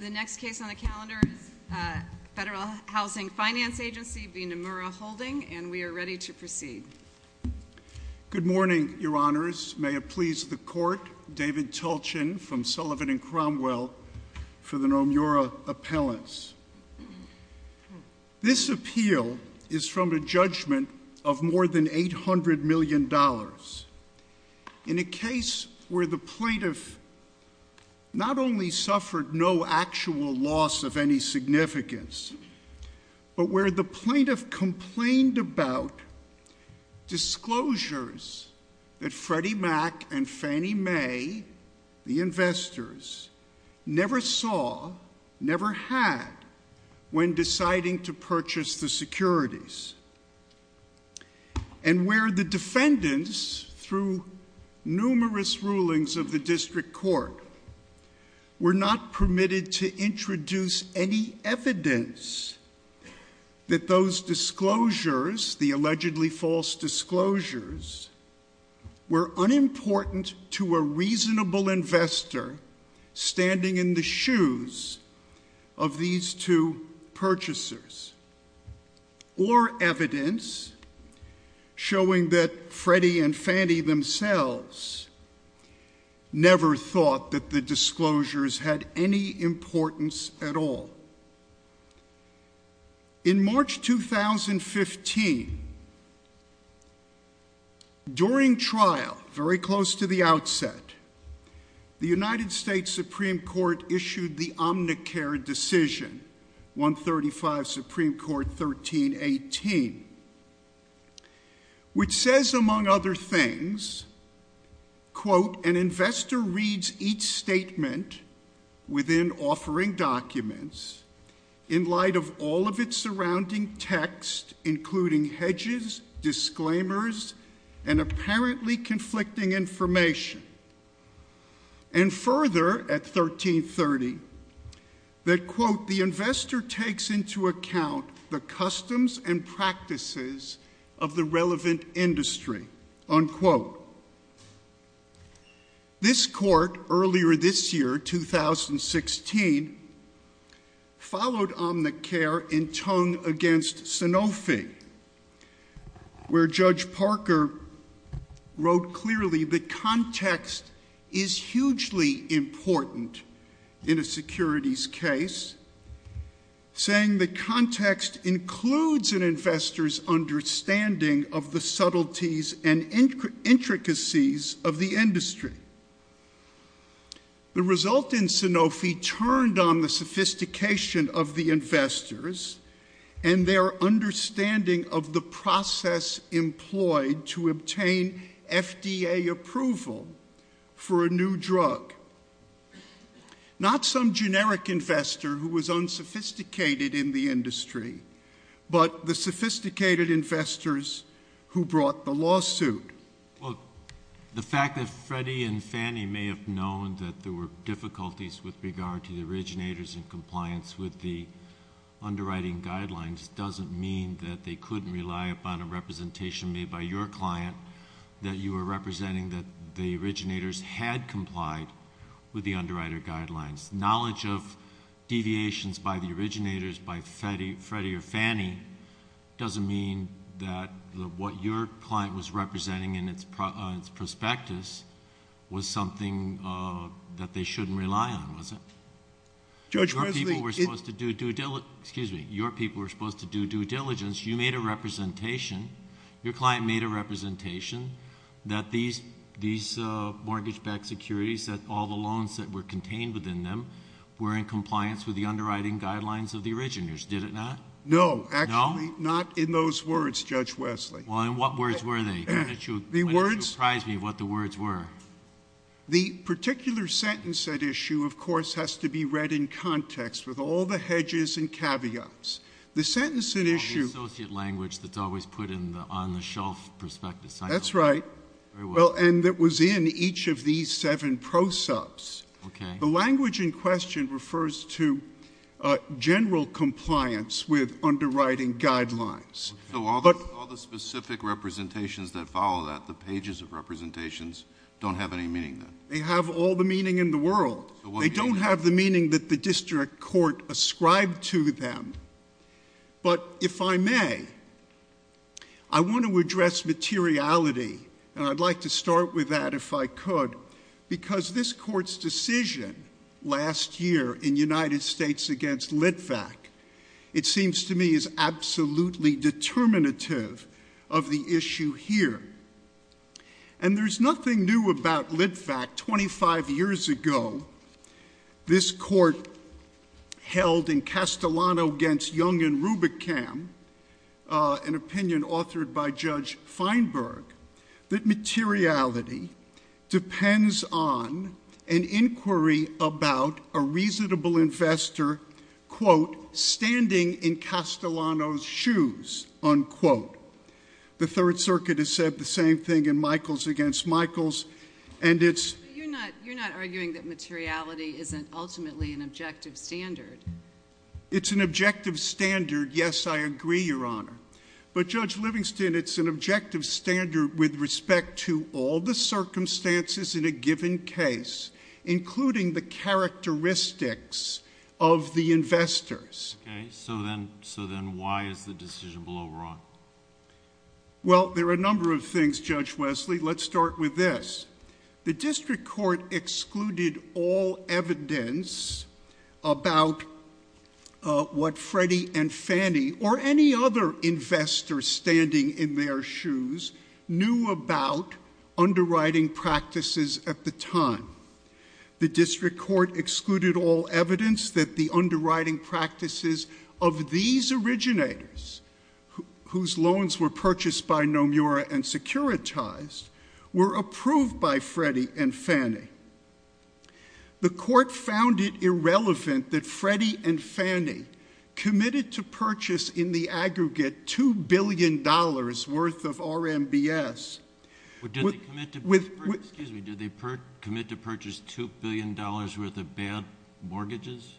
The next case on the calendar, Federal Housing Finance Agency, B. Nomura Holding, and we are ready to proceed. Good morning, Your Honors. May it please the Court, David Tulchin from Sullivan & Cromwell, for the Nomura appellants. This appeal is from a judgment of more than $800 million. In a case where the plaintiff not only suffered no actual loss of any significance, but where the plaintiff complained about disclosures that Freddie Mac and Fannie Mae, the investors, never saw, never had, when deciding to purchase the securities. And where the defendants, through numerous rulings of the district court, were not permitted to introduce any evidence that those disclosures, the allegedly false disclosures, were unimportant to a reasonable investor standing in the shoes of these two purchasers. Or evidence showing that Freddie and Fannie themselves never thought that the disclosures had any importance at all. In March 2015, during trial, very close to the outset, the United States Supreme Court issued the Omnicare decision, 135 Supreme Court 1318, which says, among other things, quote, an investor reads each statement within offering documents in light of all of its surrounding text, including hedges, disclaimers, and apparently conflicting information. And further, at 1330, that quote, the investor takes into account the customs and practices of the relevant industry, unquote. This court, earlier this year, 2016, followed Omnicare in tongue against Sanofi, where Judge Parker wrote clearly the context is hugely important in a securities case, saying the context includes an investor's understanding of the subtleties and intricacies of the industry. The result in Sanofi turned on the sophistication of the investors and their understanding of the process employed to obtain FDA approval for a new drug. Not some generic investor who was unsophisticated in the industry, but the sophisticated investors who brought the lawsuit. Well, the fact that Freddie and Fannie may have known that there were difficulties with regard to the originators in compliance with the underwriting guidelines doesn't mean that they couldn't rely upon a representation made by your client that you were representing that the originators had complied with the underwriter guidelines. Knowledge of deviations by the originators, by Freddie or Fannie, doesn't mean that what your client was representing in its prospectus was something that they shouldn't rely on, was it? Your people were supposed to do due diligence. You made a representation. Your client made a representation that these mortgage-backed securities, that all the loans that were contained within them, were in compliance with the underwriting guidelines of the originators. Did it not? No. Actually, not in those words, Judge Wesley. Well, in what words were they? It would surprise me what the words were. The particular sentence at issue, of course, has to be read in context with all the hedges and caveats. The sentence at issue... The associate language that's always put in the on-the-shelf prospectus. That's right. And it was in each of these seven pro-subs. The language in question refers to general compliance with underwriting guidelines. So all the specific representations that follow that, the pages of representations, don't have any meaning then? They have all the meaning in the world. They don't have the meaning that the district court ascribed to them. But if I may, I want to address materiality, and I'd like to start with that if I could, because this court's decision last year in United States against Litvak, it seems to me is absolutely determinative of the issue here. And there's nothing new about Litvak. Twenty-five years ago, this court held in Castellano against Young and Rubicam, an opinion authored by Judge Feinberg, that materiality depends on an inquiry about a reasonable investor, quote, standing in Castellano's shoes, unquote. The Third Circuit has said the same thing in Michaels against Michaels. You're not arguing that materiality isn't ultimately an objective standard? It's an objective standard, yes, I agree, Your Honor. But, Judge Livingston, it's an objective standard with respect to all the circumstances in a given case, including the characteristics of the investors. Okay, so then why is the decision below wrong? Well, there are a number of things, Judge Wesley. Let's start with this. The district court excluded all evidence about what Freddie and Fannie or any other investor standing in their shoes knew about underwriting practices at the time. The district court excluded all evidence that the underwriting practices of these originators, whose loans were purchased by Nomura and securitized, were approved by Freddie and Fannie. The court found it irrelevant that Freddie and Fannie committed to purchase in the aggregate $2 billion worth of RMBS. Excuse me, did they commit to purchase $2 billion worth of bad mortgages?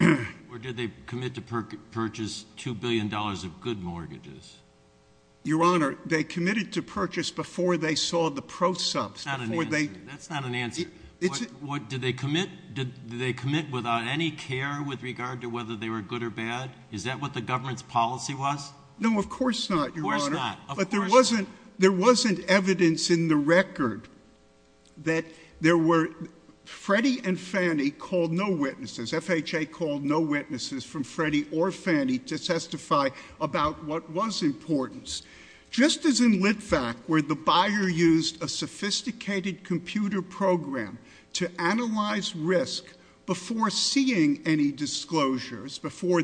Or did they commit to purchase $2 billion of good mortgages? Your Honor, they committed to purchase before they saw the prosub. That's not an answer. Did they commit without any care with regard to whether they were good or bad? Is that what the government's policy was? No, of course not, Your Honor. Of course not. But there wasn't evidence in the record that there were Freddie and Fannie called no witnesses, FHA called no witnesses from Freddie or Fannie to testify about what was important. Just as in Litvak, where the buyer used a sophisticated computer program to analyze risk before seeing any disclosures, before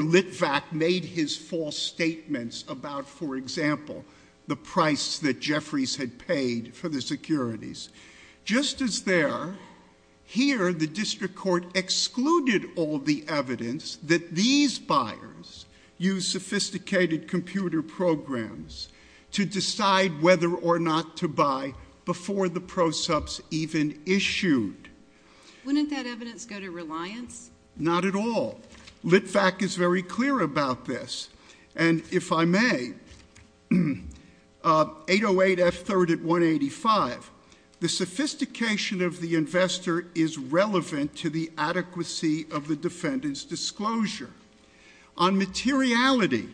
Litvak made his false statements about, for example, the price that Jeffries had paid for the securities. Just as there, here the district court excluded all the evidence that these buyers used sophisticated computer programs to decide whether or not to buy before the prosubs even issued. Wouldn't that evidence go to Reliance? Not at all. Litvak is very clear about this. And if I may, 808 F-3rd at 185, the sophistication of the investor is relevant to the adequacy of the defendant's disclosure. On materiality,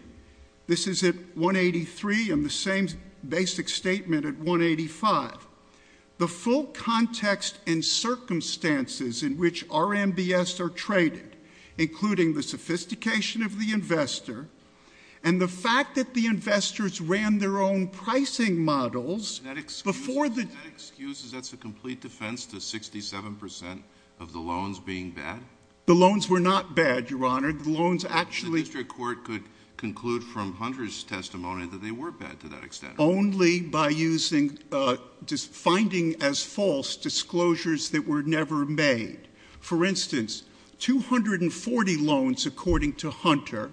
this is at 183 and the same basic statement at 185, the full context and circumstances in which RMBS are traded, including the sophistication of the investor and the fact that the investors ran their own pricing models before the- That excuse is that's a complete defense to 67% of the loans being bad? The loans were not bad, Your Honor. The loans actually- The district court could conclude from Hunter's testimony that they weren't bad to that extent. Only by finding as false disclosures that were never made. For instance, 240 loans, according to Hunter,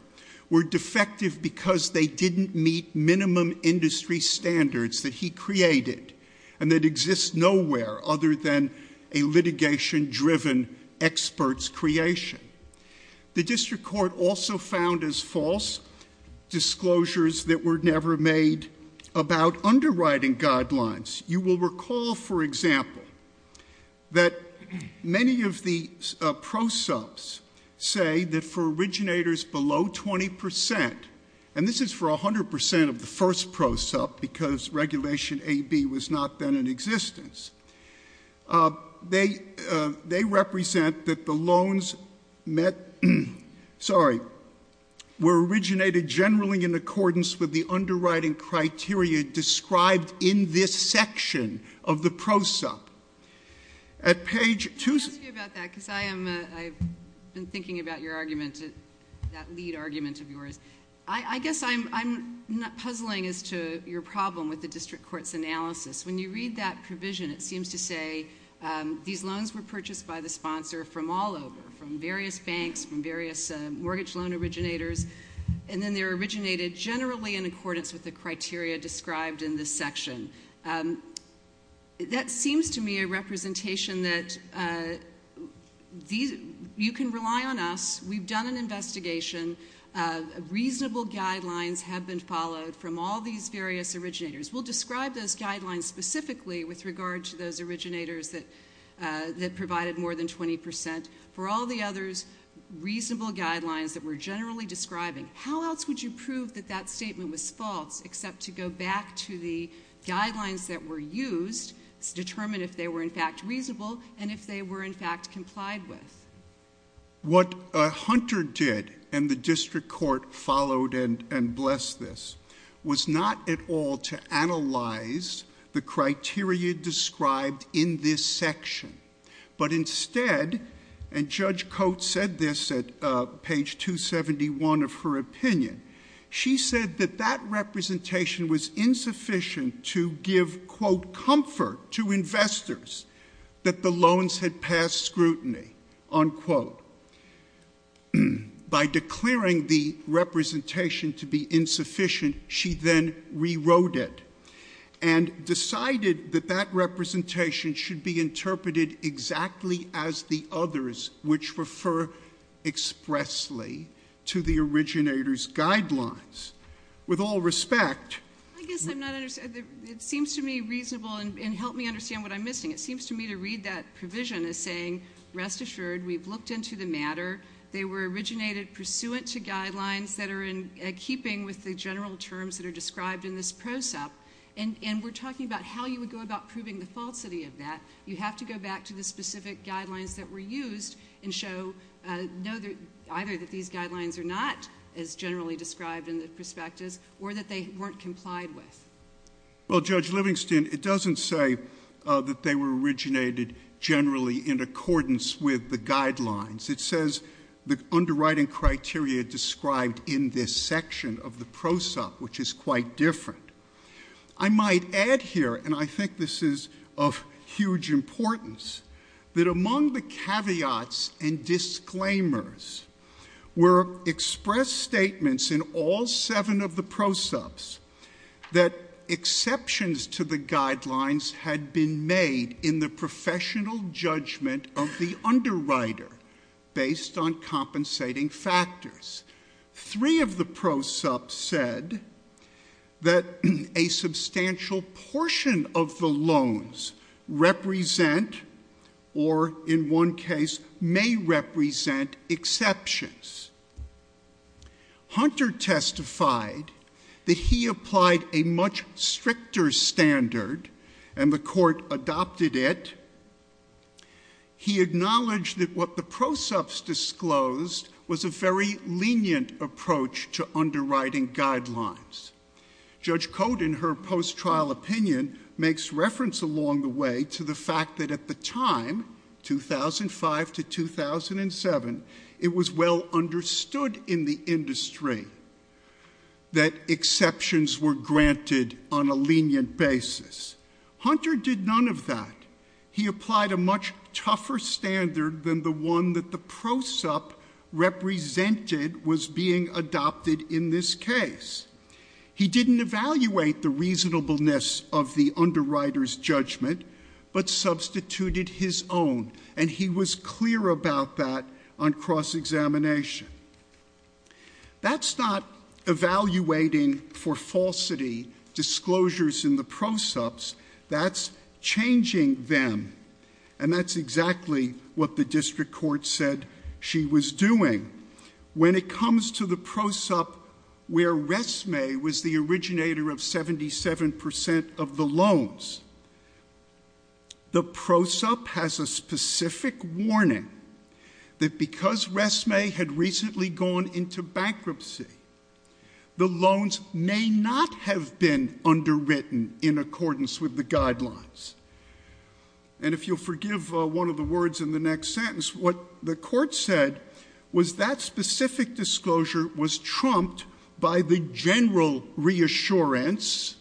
were defective because they didn't meet minimum industry standards that he created and that exist nowhere other than a litigation-driven expert's creation. The district court also found as false disclosures that were never made about underwriting guidelines. You will recall, for example, that many of the prosups say that for originators below 20%, and this is for 100% of the first prosup because Regulation AB was not then in existence. They represent that the loans met-sorry- were originated generally in accordance with the underwriting criteria described in this section of the prosup. At page- I'm happy about that because I've been thinking about your arguments, that lead argument of yours. I guess I'm not puzzling as to your problem with the district court's analysis. When you read that provision, it seems to say these loans were purchased by the sponsor from all over, from various banks, from various mortgage loan originators, and then they were originated generally in accordance with the criteria described in this section. That seems to me a representation that you can rely on us. We've done an investigation. Reasonable guidelines have been followed from all these various originators. We'll describe those guidelines specifically with regard to those originators that provided more than 20%. For all the others, reasonable guidelines that we're generally describing. How else would you prove that that statement was false except to go back to the guidelines that were used to determine if they were in fact reasonable and if they were in fact complied with? What Hunter did, and the district court followed and blessed this, was not at all to analyze the criteria described in this section, but instead, and Judge Coates said this at page 271 of her opinion, she said that that representation was insufficient to give, quote, to offer to investors that the loans had passed scrutiny, unquote. By declaring the representation to be insufficient, she then rewrote it and decided that that representation should be interpreted exactly as the others, which refer expressly to the originators' guidelines. With all respect. I guess I'm not understanding. It seems to me reasonable, and help me understand what I'm missing. It seems to me to read that provision as saying, rest assured, we've looked into the matter. They were originated pursuant to guidelines that are in keeping with the general terms that are described in this process, and we're talking about how you would go about proving the falsity of that. You have to go back to the specific guidelines that were used and show either that these guidelines are not as generally described in this perspective or that they weren't complied with. Well, Judge Livingston, it doesn't say that they were originated generally in accordance with the guidelines. It says the underwriting criteria described in this section of the PROSOP, which is quite different. I might add here, and I think this is of huge importance, that among the caveats and disclaimers were expressed statements in all seven of the PROSOPs that exceptions to the guidelines had been made in the professional judgment of the underwriter based on compensating factors. Three of the PROSOPs said that a substantial portion of the loans represent or, in one case, may represent exceptions. Hunter testified that he applied a much stricter standard, and the court adopted it. He acknowledged that what the PROSOPs disclosed was a very lenient approach to underwriting guidelines. Judge Cote, in her post-trial opinion, makes reference along the way to the fact that at the time, 2005 to 2007, it was well understood in the industry that exceptions were granted on a lenient basis. Hunter did none of that. He applied a much tougher standard than the one that the PROSOP represented was being adopted in this case. He didn't evaluate the reasonableness of the underwriter's judgment, but substituted his own, and he was clear about that on cross-examination. That's not evaluating for falsity disclosures in the PROSOPs. That's changing them, and that's exactly what the district court said she was doing. When it comes to the PROSOP where Resme was the originator of 77% of the loans, the PROSOP has a specific warning that because Resme had recently gone into bankruptcy, the loans may not have been underwritten in accordance with the guidelines. And if you'll forgive one of the words in the next sentence, what the court said was that specific disclosure was trumped by the general reassurance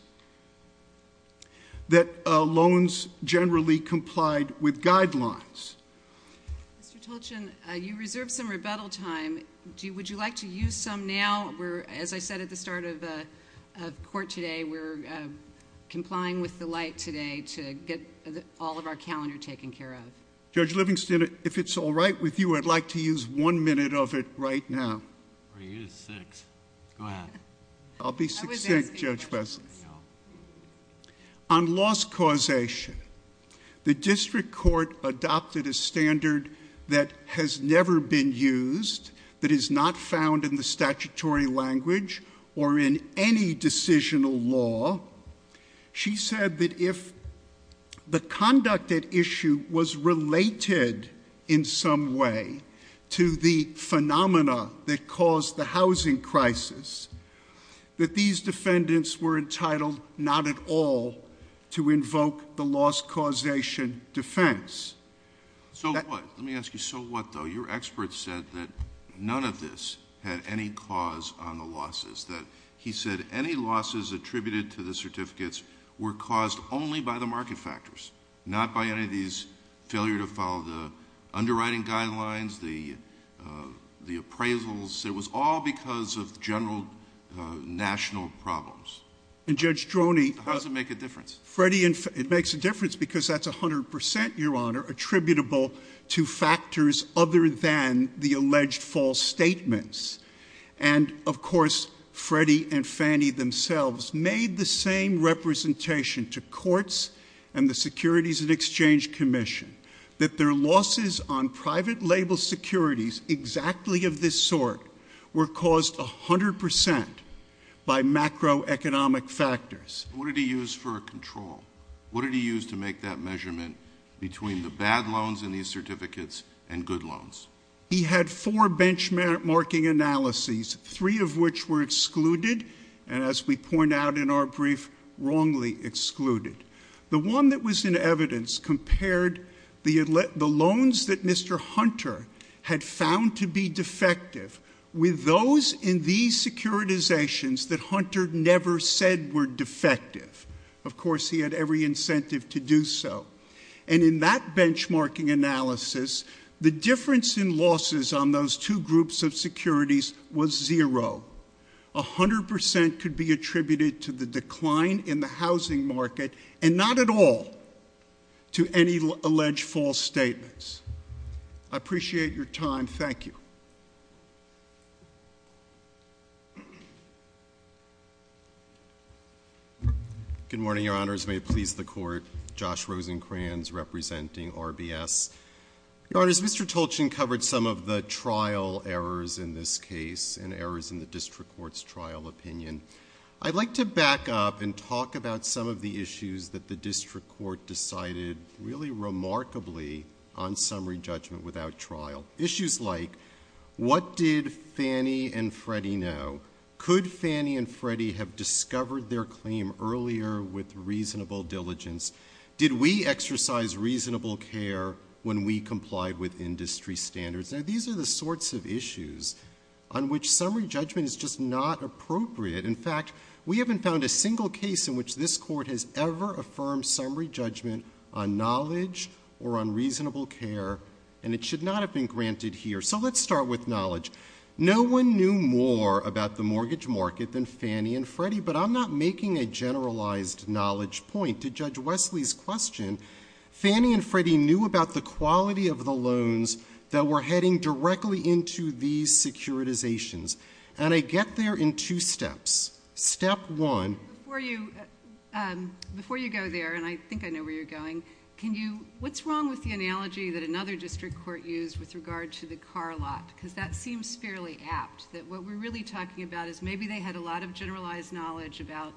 that loans generally complied with guidelines. Mr. Tolchin, you reserved some rebuttal time. Would you like to use some now? As I said at the start of court today, we're complying with the light today to get all of our calendar taken care of. Judge Livingston, if it's all right with you, I'd like to use one minute of it right now. I'll use six. Go ahead. I'll be six-six, Judge Bessel. On loss causation, the district court adopted a standard that has never been used, that is not found in the statutory language or in any decisional law. She said that if the conducted issue was related in some way to the phenomena that caused the housing crisis, that these defendants were entitled not at all to invoke the loss causation defense. So what? Let me ask you, so what, though? Your expert said that none of this had any cause on the losses. He said any losses attributed to the certificates were caused only by the market factors, not by any of these failure to follow the underwriting guidelines, the appraisals. It was all because of general national problems. And Judge Droney— How does it make a difference? Freddie, it makes a difference because that's 100 percent, Your Honor, attributable to factors other than the alleged false statements. And, of course, Freddie and Fannie themselves made the same representation to courts and the Securities and Exchange Commission that their losses on private label securities exactly of this sort were caused 100 percent by macroeconomic factors. What did he use for a control? What did he use to make that measurement between the bad loans in these certificates and good loans? He had four benchmarking analyses, three of which were excluded, and as we point out in our brief, wrongly excluded. The one that was in evidence compared the loans that Mr. Hunter had found to be defective with those in these securitizations that Hunter never said were defective. Of course, he had every incentive to do so. And in that benchmarking analysis, the difference in losses on those two groups of securities was zero. 100 percent could be attributed to the decline in the housing market and not at all to any alleged false statements. I appreciate your time. Thank you. Good morning, Your Honors. May it please the Court. Josh Rosenkranz representing RBS. Your Honors, Mr. Tolchin covered some of the trial errors in this case and errors in the district court's trial opinion. I'd like to back up and talk about some of the issues that the district court decided really remarkably on summary judgment without trial. Issues like what did Fannie and Freddie know? Could Fannie and Freddie have discovered their claim earlier with reasonable diligence? Did we exercise reasonable care when we complied with industry standards? Now, these are the sorts of issues on which summary judgment is just not appropriate. In fact, we haven't found a single case in which this Court has ever affirmed summary judgment on knowledge or on reasonable care, and it should not have been granted here. So let's start with knowledge. No one knew more about the mortgage market than Fannie and Freddie, but I'm not making a generalized knowledge point. To Judge Wesley's question, Fannie and Freddie knew about the quality of the loans that were heading directly into these securitizations, and I get there in two steps. Step one. Before you go there, and I think I know where you're going, what's wrong with the analogy that another district court used with regard to the car lot? Because that seems fairly apt. What we're really talking about is maybe they had a lot of generalized knowledge about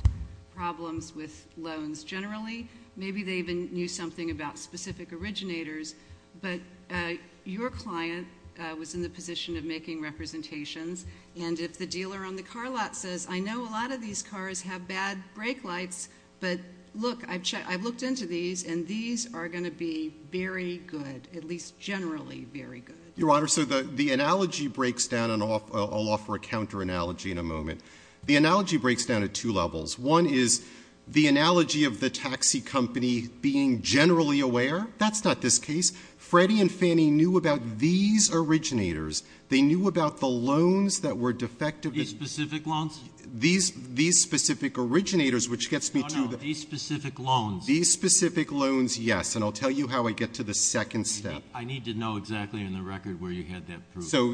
problems with loans. Generally, maybe they even knew something about specific originators, but your client was in the position of making representations, and if the dealer on the car lot says, I know a lot of these cars have bad brake lights, but look, I've looked into these, and these are going to be very good, at least generally very good. Your Honor, so the analogy breaks down, and I'll offer a counter analogy in a moment. The analogy breaks down at two levels. One is the analogy of the taxi company being generally aware. That's not this case. Freddie and Fannie knew about these originators. They knew about the loans that were defective. These specific ones? These specific originators, which gets me to the- Oh, no, these specific loans. These specific loans, yes, and I'll tell you how I get to the second step. I need to know exactly in the record where you get that proof. So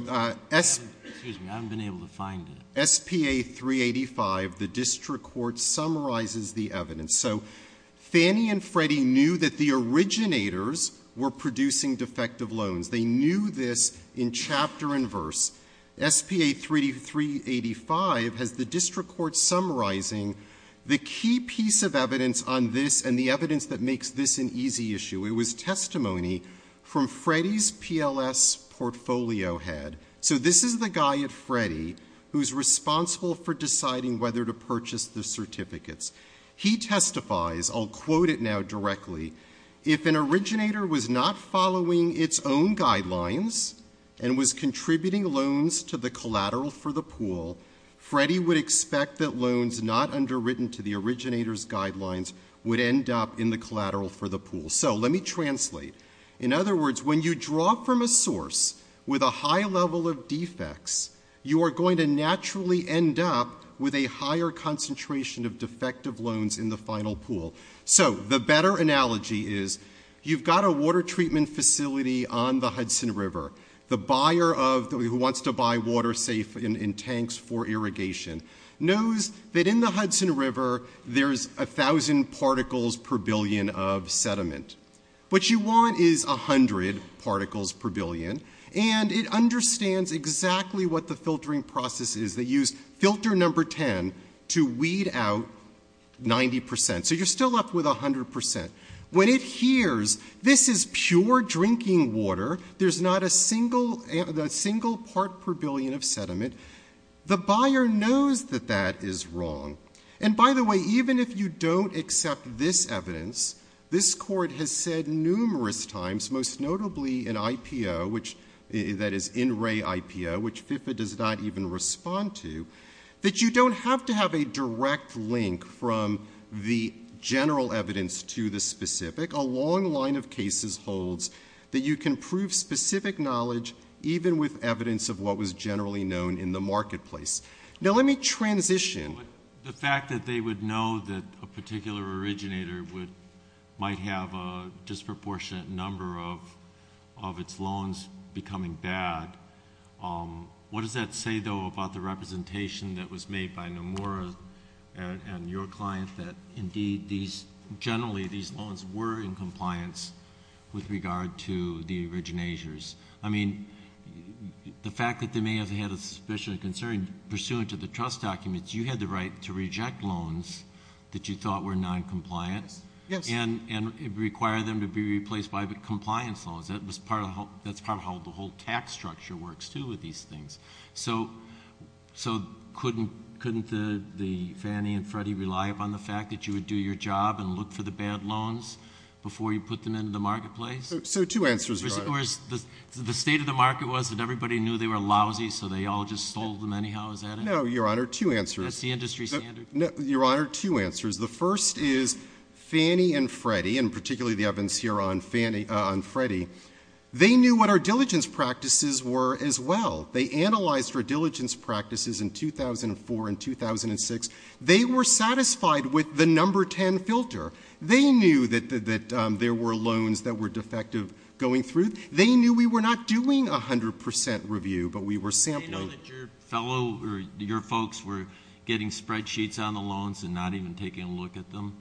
S- Excuse me, I haven't been able to find it. SPA 385, the district court summarizes the evidence. So Fannie and Freddie knew that the originators were producing defective loans. They knew this in chapter and verse. SPA 385 has the district court summarizing the key piece of evidence on this and the evidence that makes this an easy issue. It was testimony from Freddie's PLS portfolio head. So this is the guy, Freddie, who's responsible for deciding whether to purchase the certificates. He testifies, I'll quote it now directly, If an originator was not following its own guidelines and was contributing loans to the collateral for the pool, Freddie would expect that loans not underwritten to the originator's guidelines would end up in the collateral for the pool. So let me translate. In other words, when you draw from a source with a high level of defects, you are going to naturally end up with a higher concentration of defective loans in the final pool. So the better analogy is you've got a water treatment facility on the Hudson River. The buyer who wants to buy water safe in tanks for irrigation knows that in the Hudson River there's 1,000 particles per billion of sediment. What you want is 100 particles per billion, and it understands exactly what the filtering process is. They use filter number 10 to weed out 90%. So you're still left with 100%. When it hears this is pure drinking water, there's not a single part per billion of sediment, the buyer knows that that is wrong. And by the way, even if you don't accept this evidence, this court has said numerous times, most notably in IPO, that is in-ray IPO, which FIFA does not even respond to, that you don't have to have a direct link from the general evidence to the specific. A long line of cases holds that you can prove specific knowledge, even with evidence of what was generally known in the marketplace. Now let me transition. The fact that they would know that a particular originator might have a disproportionate number of its loans becoming bad, what does that say, though, about the representation that was made by Nomura and your clients that, indeed, generally these loans were in compliance with regard to the originators? I mean, the fact that they may have had a suspicion or concern pursuant to the trust documents, you had the right to reject loans that you thought were noncompliant and require them to be replaced by compliance loans. That's part of how the whole tax structure works, too, with these things. So couldn't Fannie and Freddie rely upon the fact that you would do your job and look for the bad loans before you put them into the marketplace? So two answers, Your Honor. The state of the market was that everybody knew they were lousy, so they all just sold them anyhow. Is that it? No, Your Honor, two answers. That's the industry standard. No, Your Honor, two answers. The first is Fannie and Freddie, and particularly the evidence here on Freddie, they knew what our diligence practices were as well. They analyzed our diligence practices in 2004 and 2006. They were satisfied with the number 10 filter. They knew that there were loans that were defective going through. They knew we were not doing 100% review, but we were sampling. Did they know that your folks were getting spreadsheets on the loans and not even taking a look at them?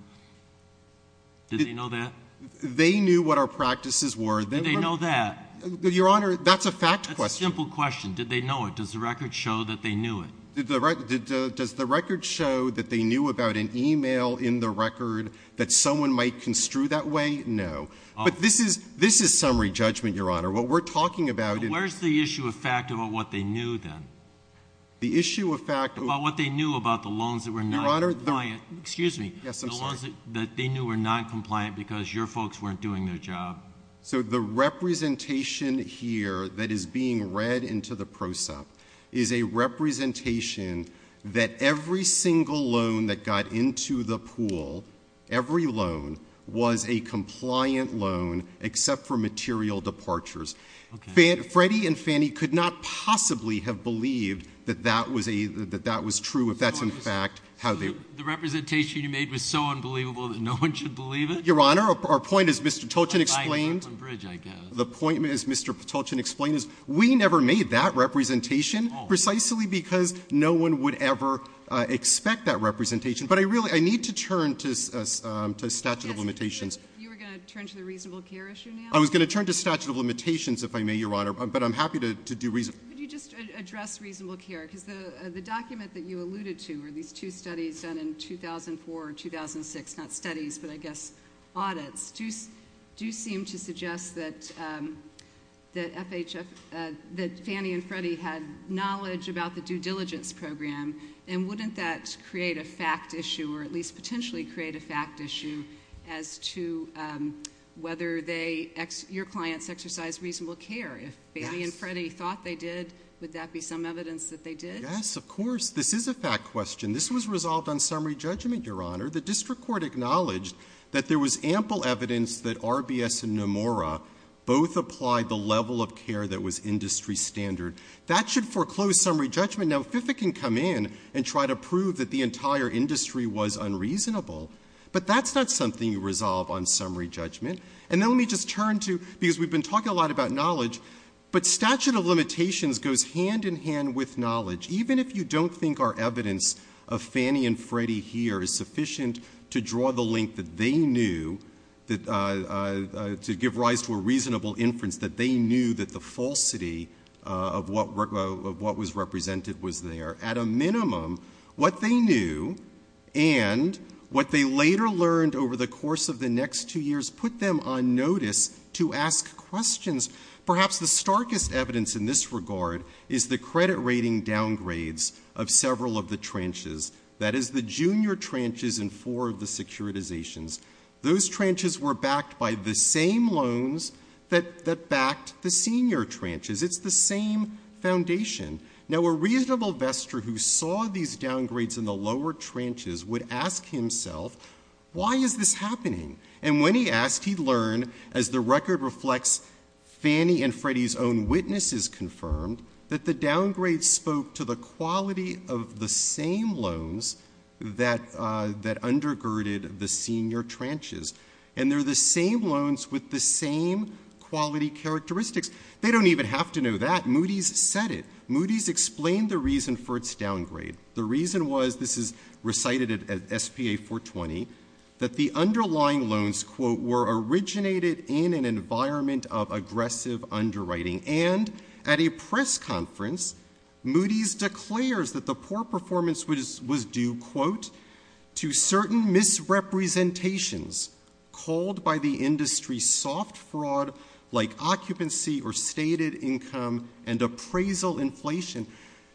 Did they know that? They knew what our practices were. Did they know that? Your Honor, that's a facts question. It's a simple question. Did they know it? Does the record show that they knew it? Does the record show that they knew about an e-mail in the record that someone might construe that way? No. But this is summary judgment, Your Honor. What we're talking about is Where's the issue of fact about what they knew then? The issue of fact about what they knew about the loans that were not compliant. Excuse me. The loans that they knew were not compliant because your folks weren't doing their job. So the representation here that is being read into the PROSEP is a representation that every single loan that got into the pool, every loan, was a compliant loan except for material departures. Okay. Freddie and Fannie could not possibly have believed that that was true if that's in fact how they... The representation you made was so unbelievable that no one should believe it? Your Honor, our point, as Mr. Toulton explained... It's a bridge, I guess. The point, as Mr. Toulton explained, is we never made that representation precisely because no one would ever expect that representation. But I need to turn to statute of limitations. You were going to turn to the reasonable care issue now? I was going to turn to statute of limitations, if I may, Your Honor, but I'm happy to do reasonable... Could you just address reasonable care? Because the document that you alluded to are these two studies done in 2004 or 2006, not studies, but I guess audits, do seem to suggest that Fannie and Freddie had knowledge about the due diligence program, and wouldn't that create a fact issue or at least potentially create a fact issue as to whether your clients exercise reasonable care? If Fannie and Freddie thought they did, would that be some evidence that they did? Yes, of course. This is a fact question. This was resolved on summary judgment, Your Honor. The district court acknowledged that there was ample evidence that RBS and Nomura both applied the level of care that was industry standard. That should foreclose summary judgment. Now, FIFA can come in and try to prove that the entire industry was unreasonable, but that's not something you resolve on summary judgment. And then let me just turn to, because we've been talking a lot about knowledge, but statute of limitations goes hand in hand with knowledge. Even if you don't think our evidence of Fannie and Freddie here is sufficient to draw the link that they knew, to give rise to a reasonable inference that they knew that the falsity of what was represented was there, at a minimum what they knew and what they later learned over the course of the next two years put them on notice to ask questions. Perhaps the starkest evidence in this regard is the credit rating downgrades of several of the tranches, that is the junior tranches and four of the securitizations. Those tranches were backed by the same loans that backed the senior tranches. It's the same foundation. Now, a reasonable vesture who saw these downgrades in the lower tranches would ask himself, why is this happening? And when he asked, he learned, as the record reflects Fannie and Freddie's own witnesses confirmed, that the downgrades spoke to the quality of the same loans that undergirded the senior tranches. And they're the same loans with the same quality characteristics. They don't even have to know that. Moody's said it. Moody's explained the reason for its downgrade. The reason was, this is recited at SPA 420, that the underlying loans, quote, were originated in an environment of aggressive underwriting. And at a press conference, Moody's declares that the poor performance was due, quote, to certain misrepresentations called by the industry soft fraud like occupancy or stated income and appraisal inflation.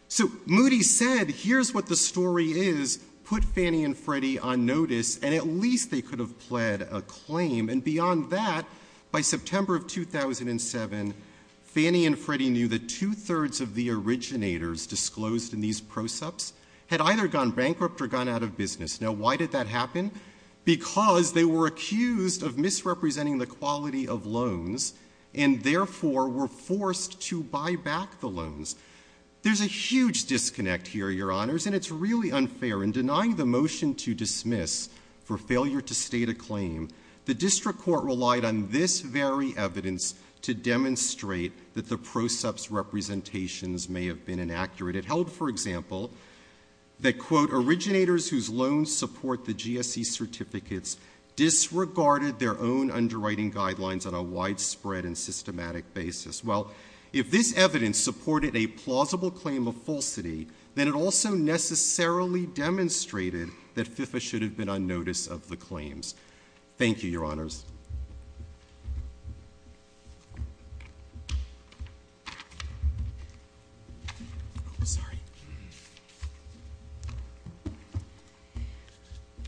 So Moody's said, here's what the story is, put Fannie and Freddie on notice, and at least they could have pled a claim, and beyond that, by September of 2007, Fannie and Freddie knew that two-thirds of the originators disclosed in these procepts had either gone bankrupt or gone out of business. Now, why did that happen? Because they were accused of misrepresenting the quality of loans and, therefore, were forced to buy back the loans. There's a huge disconnect here, Your Honors, and it's really unfair. In denying the motion to dismiss for failure to state a claim, the district court relied on this very evidence to demonstrate that the procept's representations may have been inaccurate. It held, for example, that, quote, originators whose loans support the GSE certificates disregarded their own underwriting guidelines on a widespread and systematic basis. Well, if this evidence supported a plausible claim of falsity, then it also necessarily demonstrated that FIFA should have been on notice of the claims. Thank you, Your Honors.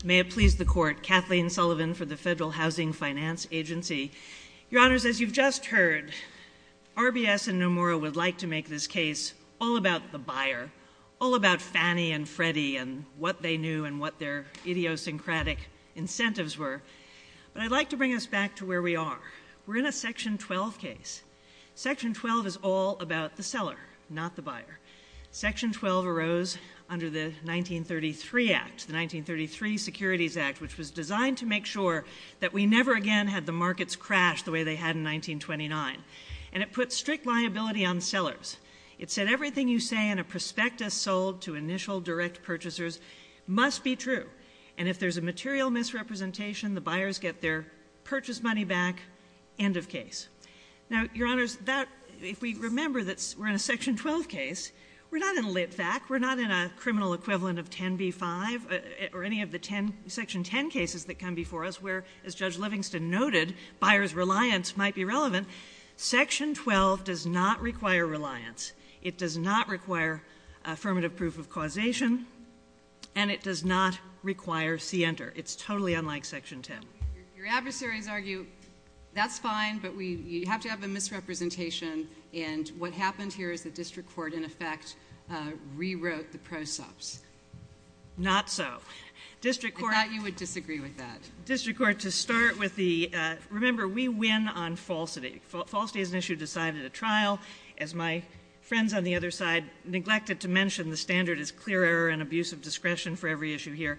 May it please the Court. Kathleen Sullivan for the Federal Housing Finance Agency. Your Honors, as you've just heard, RBS and Nomura would like to make this case all about the buyer, all about Fannie and Freddie and what they knew and what their idiosyncratic incentives were. But I'd like to bring us back to where we are. We're in a Section 12 case. Section 12 is all about the seller, not the buyer. Section 12 arose under the 1933 Act, the 1933 Securities Act, which was designed to make sure that we never again had the markets crash the way they had in 1929. And it put strict liability on sellers. It said everything you say in a prospectus sold to initial direct purchasers must be true. And if there's a material misrepresentation, the buyers get their purchase money back, end of case. Now, Your Honors, if we remember that we're in a Section 12 case, we're not in a lit-back. We're not in a criminal equivalent of 10b-5 or any of the Section 10 cases that come before us where, as Judge Livingston noted, buyer's reliance might be relevant. Section 12 does not require reliance. It does not require affirmative proof of causation. And it does not require C-enter. It's totally unlike Section 10. Your adversaries argue that's fine, but you have to have the misrepresentation. And what happened here is the district court, in effect, rewrote the procepts. Not so. I thought you would disagree with that. District court, to start with the – remember, we win on falsity. Falsity is an issue decided at trial. As my friends on the other side neglected to mention, the standard is clear error and abuse of discretion for every issue here.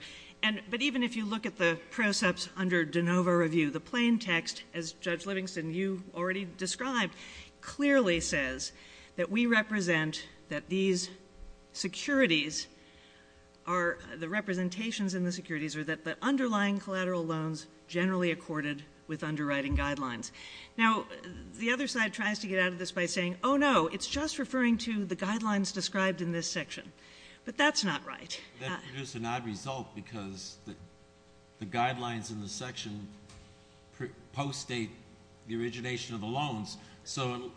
But even if you look at the precepts under de novo review, the plain text, as Judge Livingston, you already described, clearly says that we represent that these securities are – the representations in the securities are that the underlying collateral loans generally accorded with underwriting guidelines. Now, the other side tries to get out of this by saying, oh, no, it's just referring to the guidelines described in this section. But that's not right. That's just an odd result because the guidelines in the section post-date the origination of the loans. So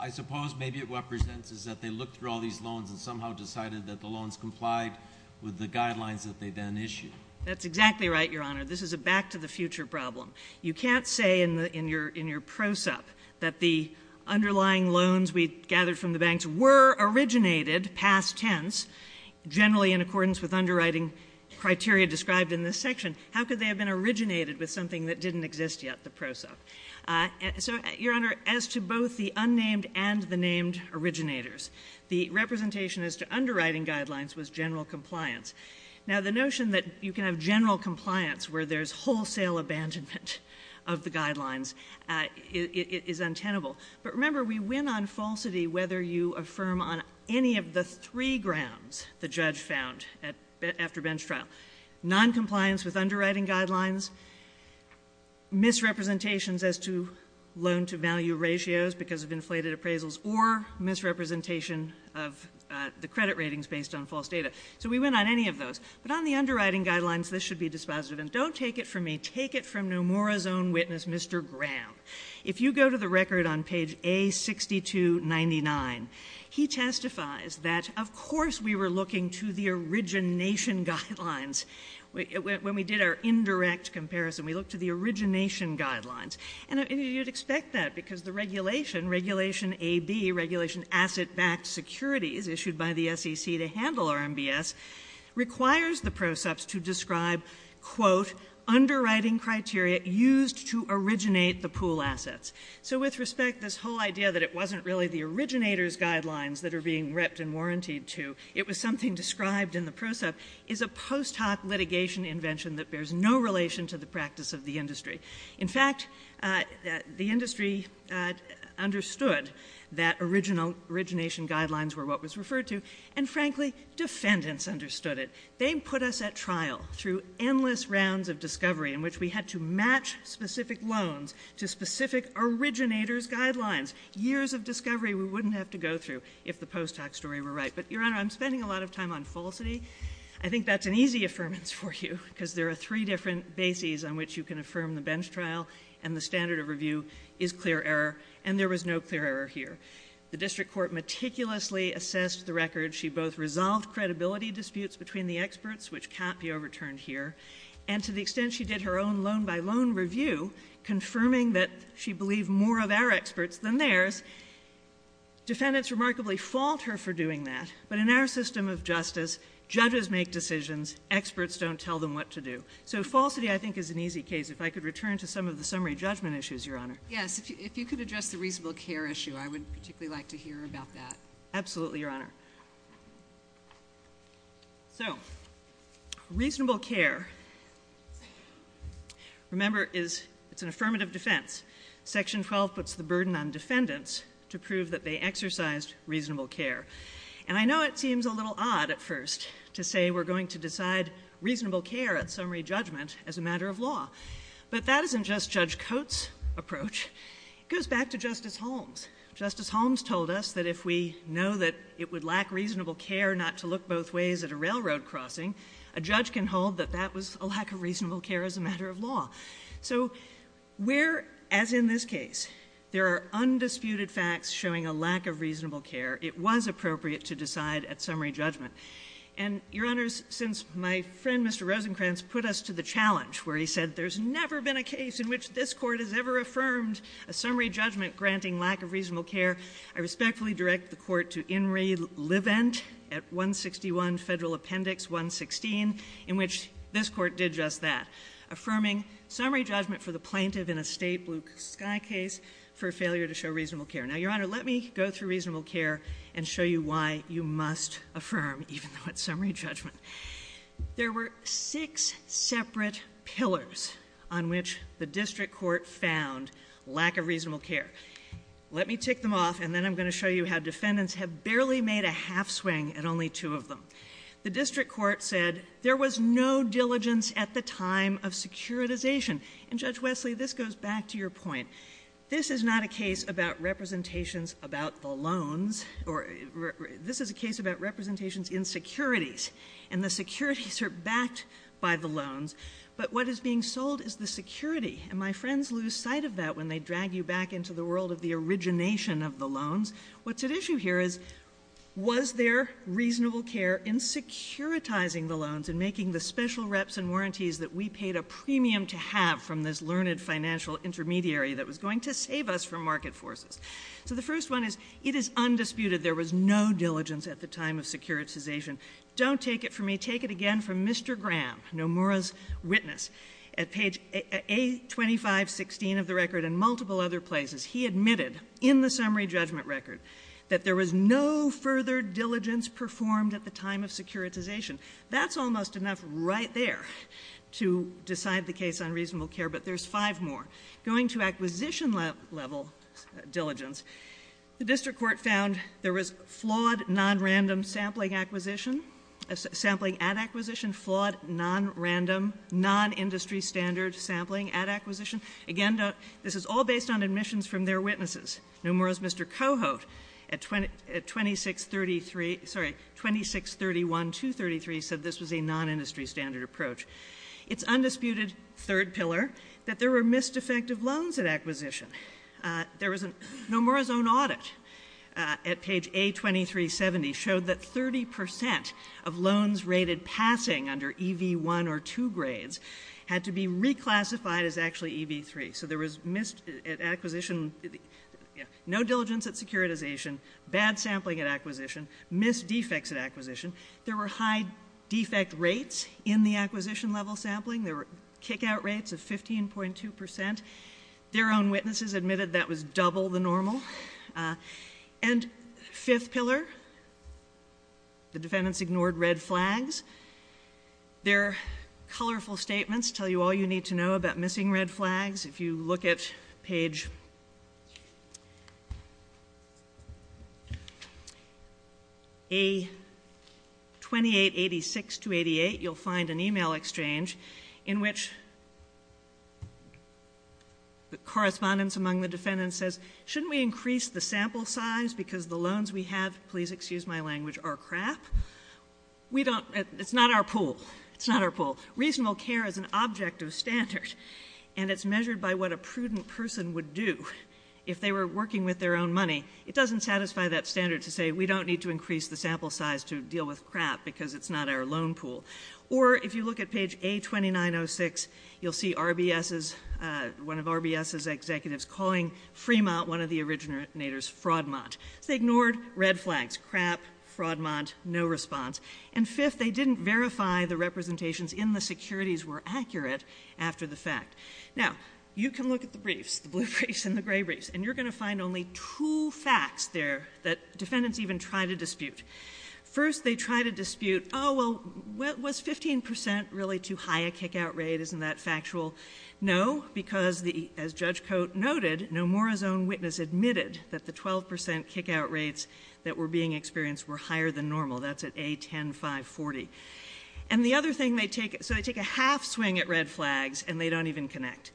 I suppose maybe it represents that they looked through all these loans and somehow decided that the loans complied with the guidelines that they then issued. That's exactly right, Your Honor. This is a back-to-the-future problem. You can't say in your precept that the underlying loans we gathered from the banks were originated, past tense, generally in accordance with underwriting criteria described in this section. How could they have been originated with something that didn't exist yet, the prosop? So, Your Honor, as to both the unnamed and the named originators, the representation as to underwriting guidelines was general compliance. Now, the notion that you can have general compliance where there's wholesale abandonment of the guidelines is untenable. But remember, we went on falsity whether you affirm on any of the three grounds the judge found after bench trial. Noncompliance with underwriting guidelines, misrepresentations as to loan-to-value ratios because of insulated appraisals, or misrepresentation of the credit ratings based on false data. So we went on any of those. But on the underwriting guidelines, this should be dispositive. And don't take it from me. Take it from Nomura's own witness, Mr. Graham. If you go to the record on page A6299, he testifies that, of course, we were looking to the origination guidelines. When we did our indirect comparison, we looked to the origination guidelines. And you'd expect that because the regulation, Regulation AB, regulation asset-backed securities issued by the SEC to handle RMBS, requires the PROCEPs to describe, quote, underwriting criteria used to originate the pool assets. So with respect, this whole idea that it wasn't really the originators' guidelines that are being ripped and warrantied to, it was something described in the PROCEP, is a post hoc litigation invention that bears no relation to the practice of the industry. In fact, the industry understood that original origination guidelines were what was referred to, and frankly, defendants understood it. They put us at trial through endless rounds of discovery in which we had to match specific loans to specific originators' guidelines. Years of discovery we wouldn't have to go through if the post hoc story were right. But, Your Honor, I'm spending a lot of time on falsity. I think that's an easy affirmance for you because there are three different bases on which you can affirm the bench trial, and the standard of review is clear error, and there was no clear error here. The district court meticulously assessed the record. She both resolved credibility disputes between the experts, which can't be overturned here, and to the extent she did her own loan-by-loan review, confirming that she believed more of our experts than theirs, defendants remarkably fault her for doing that. But in our system of justice, judges make decisions. Experts don't tell them what to do. So falsity, I think, is an easy case. If I could return to some of the summary judgment issues, Your Honor. Yes. If you could address the reasonable care issue, I would particularly like to hear about that. Absolutely, Your Honor. So reasonable care, remember, is an affirmative defense. Section 12 puts the burden on defendants to prove that they exercised reasonable care. And I know it seems a little odd at first to say we're going to decide reasonable care at summary judgment as a matter of law. But that isn't just Judge Coates' approach. It goes back to Justice Holmes. Justice Holmes told us that if we know that it would lack reasonable care not to look both ways at a railroad crossing, a judge can hold that that was a lack of reasonable care as a matter of law. So we're, as in this case, there are undisputed facts showing a lack of reasonable care. It was appropriate to decide at summary judgment. And, Your Honor, since my friend, Mr. Rosenkranz, put us to the challenge where he said there's never been a case in which this Court has ever affirmed a summary judgment granting lack of reasonable care, I respectfully direct the Court to Inree Levent at 161 Federal Appendix 116, in which this Court did just that, affirming summary judgment for the plaintiff in a state blue sky case for failure to show reasonable care. Now, Your Honor, let me go through reasonable care and show you why you must affirm, even though it's summary judgment. There were six separate pillars on which the District Court found lack of reasonable care. Let me tick them off, and then I'm going to show you how defendants have barely made a half swing at only two of them. The District Court said there was no diligence at the time of securitization. And, Judge Wesley, this goes back to your point. This is not a case about representations about the loans. This is a case about representations in securities. And the securities are backed by the loans. But what is being sold is the security. And my friends lose sight of that when they drag you back into the world of the origination of the loans. What's at issue here is was there reasonable care in securitizing the loans and making the special reps and warranties that we paid a premium to have from this learned financial intermediary that was going to save us from market forces. So the first one is it is undisputed there was no diligence at the time of securitization. Don't take it from me. Take it again from Mr. Graham, Nomura's witness, at page A2516 of the record and multiple other places. He admitted in the summary judgment record that there was no further diligence performed at the time of securitization. That's almost enough right there to decide the case on reasonable care, but there's five more. Going to acquisition level diligence, the district court found there was flawed nonrandom sampling acquisition, sampling at acquisition, flawed nonrandom, nonindustry standard sampling at acquisition. Again, this is all based on admissions from their witnesses. Nomura's Mr. Coho at 2631-233 said this was a nonindustry standard approach. It's undisputed, third pillar, that there were missed effective loans at acquisition. Nomura's own audit at page A2370 showed that 30 percent of loans rated passing under EV1 or 2 grades had to be reclassified as actually EV3. So there was missed at acquisition, no diligence at securitization, bad sampling at acquisition, missed defects at acquisition. There were high defect rates in the acquisition level sampling. There were kickout rates of 15.2 percent. Their own witnesses admitted that was double the normal. And fifth pillar, the defendants ignored red flags. Their colorful statements tell you all you need to know about missing red flags. If you look at page A2886-288, you'll find an email exchange in which the correspondence among the defendants says, shouldn't we increase the sample size because the loans we have are crap? It's not our pool. It's not our pool. Reasonable care is an objective standard, and it's measured by what a prudent person would do if they were working with their own money. It doesn't satisfy that standard to say we don't need to increase the sample size to deal with crap because it's not our loan pool. Or if you look at page A2906, you'll see one of RBS's executives calling Fremont one of the originators, Fraudmont. They ignored red flags, crap, Fraudmont, no response. And fifth, they didn't verify the representations in the securities were accurate after the fact. Now, you can look at the briefs, the blue briefs and the gray briefs, and you're going to find only two facts there that defendants even try to dispute. First, they try to dispute, oh, well, was 15 percent really too high a kickout rate? Isn't that factual? No, because, as Judge Cote noted, no more is own witness admitted that the 12 percent kickout rates that were being experienced were higher than normal. That's at A10540. And the other thing they take, so they take a half swing at red flags, and they don't even connect.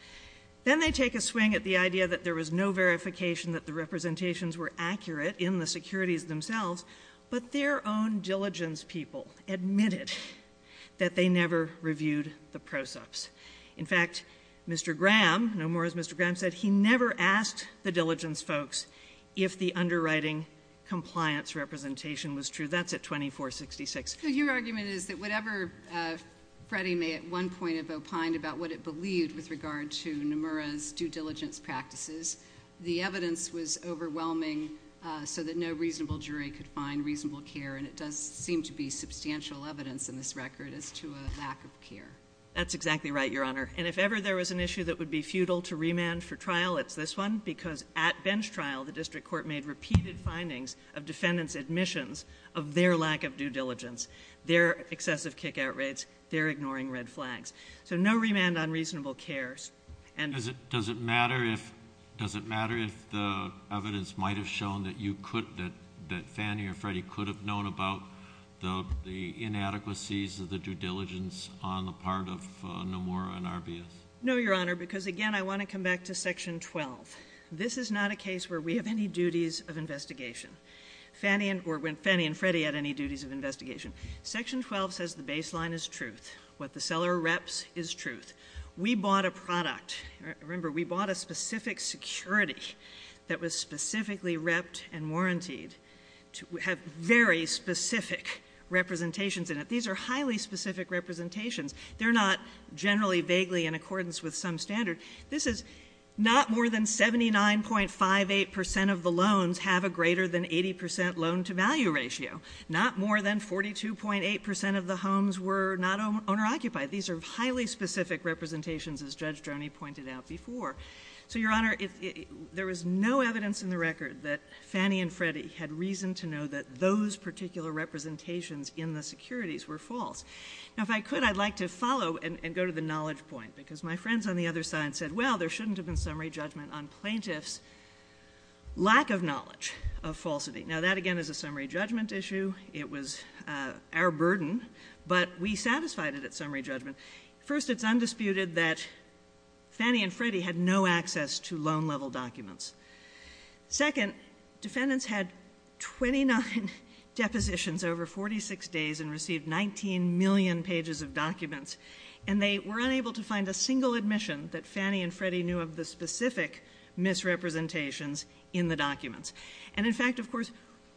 Then they take a swing at the idea that there was no verification that the representations were accurate in the securities themselves, but their own diligence people admitted that they never reviewed the process. In fact, Mr. Graham, no more as Mr. Graham said, he never asked the diligence folks if the underwriting compliance representation was true. That's at 2466. So your argument is that whatever Freddie may at one point have opined about what it believed with regard to Nomura's due diligence practices, the evidence was overwhelming so that no reasonable jury could find reasonable care, and it does seem to be substantial evidence in this record as to a lack of care. That's exactly right, Your Honor. And if ever there was an issue that would be futile to remand for trial, it's this one, because at bench trial the district court made repeated findings of defendants' admissions of their lack of due diligence, their excessive kickout rates, their ignoring red flags. So no remand on reasonable cares. Does it matter if the evidence might have shown that you could, that Fannie or Freddie could have known about the inadequacies of the due diligence on the part of Nomura and Arbius? No, Your Honor, because again I want to come back to Section 12. This is not a case where we have any duties of investigation, or when Fannie and Freddie had any duties of investigation. Section 12 says the baseline is truth. What the seller reps is truth. We bought a product. Remember, we bought a specific security that was specifically repped and warrantied to have very specific representations in it. These are highly specific representations. They're not generally vaguely in accordance with some standard. This is not more than 79.58 percent of the loans have a greater than 80 percent loan-to-value ratio, not more than 42.8 percent of the homes were not owner-occupied. These are highly specific representations, as Judge Droney pointed out before. So, Your Honor, there is no evidence in the record that Fannie and Freddie had reason to know that those particular representations in the securities were false. Now, if I could, I'd like to follow and go to the knowledge point, because my friends on the other side said, well, there shouldn't have been summary judgment on plaintiff's lack of knowledge of falsity. Now, that again is a summary judgment issue. It was our burden. But we satisfied it at summary judgment. First, it's undisputed that Fannie and Freddie had no access to loan-level documents. Second, defendants had 29 depositions over 46 days and received 19 million pages of documents, and they were unable to find a single admission that Fannie and Freddie knew of the specific misrepresentations in the documents. And, in fact, of course,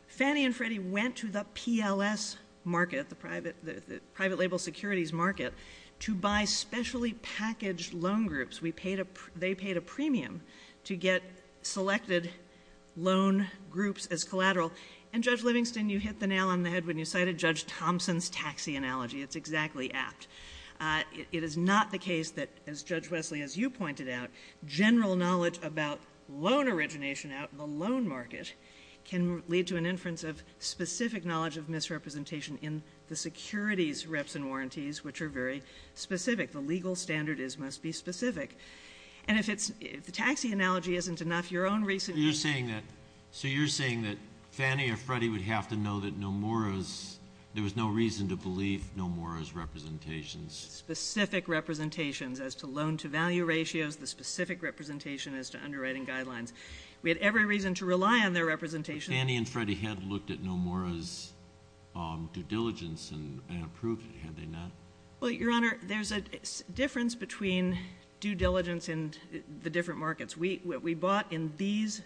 Fannie and Freddie went to the PLS market, the private-label securities market, to buy specially packaged loan groups. They paid a premium to get selected loan groups as collateral. And, Judge Livingston, you hit the nail on the head when you cited Judge Thompson's taxi analogy. It's exactly apt. It is not the case that, as Judge Wesley, as you pointed out, general knowledge about loan origination out in the loan market can lead to an inference of specific knowledge of misrepresentation in the securities reps and warranties, which are very specific. The legal standard must be specific. And if the taxi analogy isn't enough, your own recent... Specific representations as to loan-to-value ratios, the specific representation as to underwriting guidelines. We had every reason to rely on their representation. Fannie and Freddie had looked at Nomura's due diligence and they have proof. Have they not? Well, Your Honor, there's a difference between due diligence and the different markets. We bought in these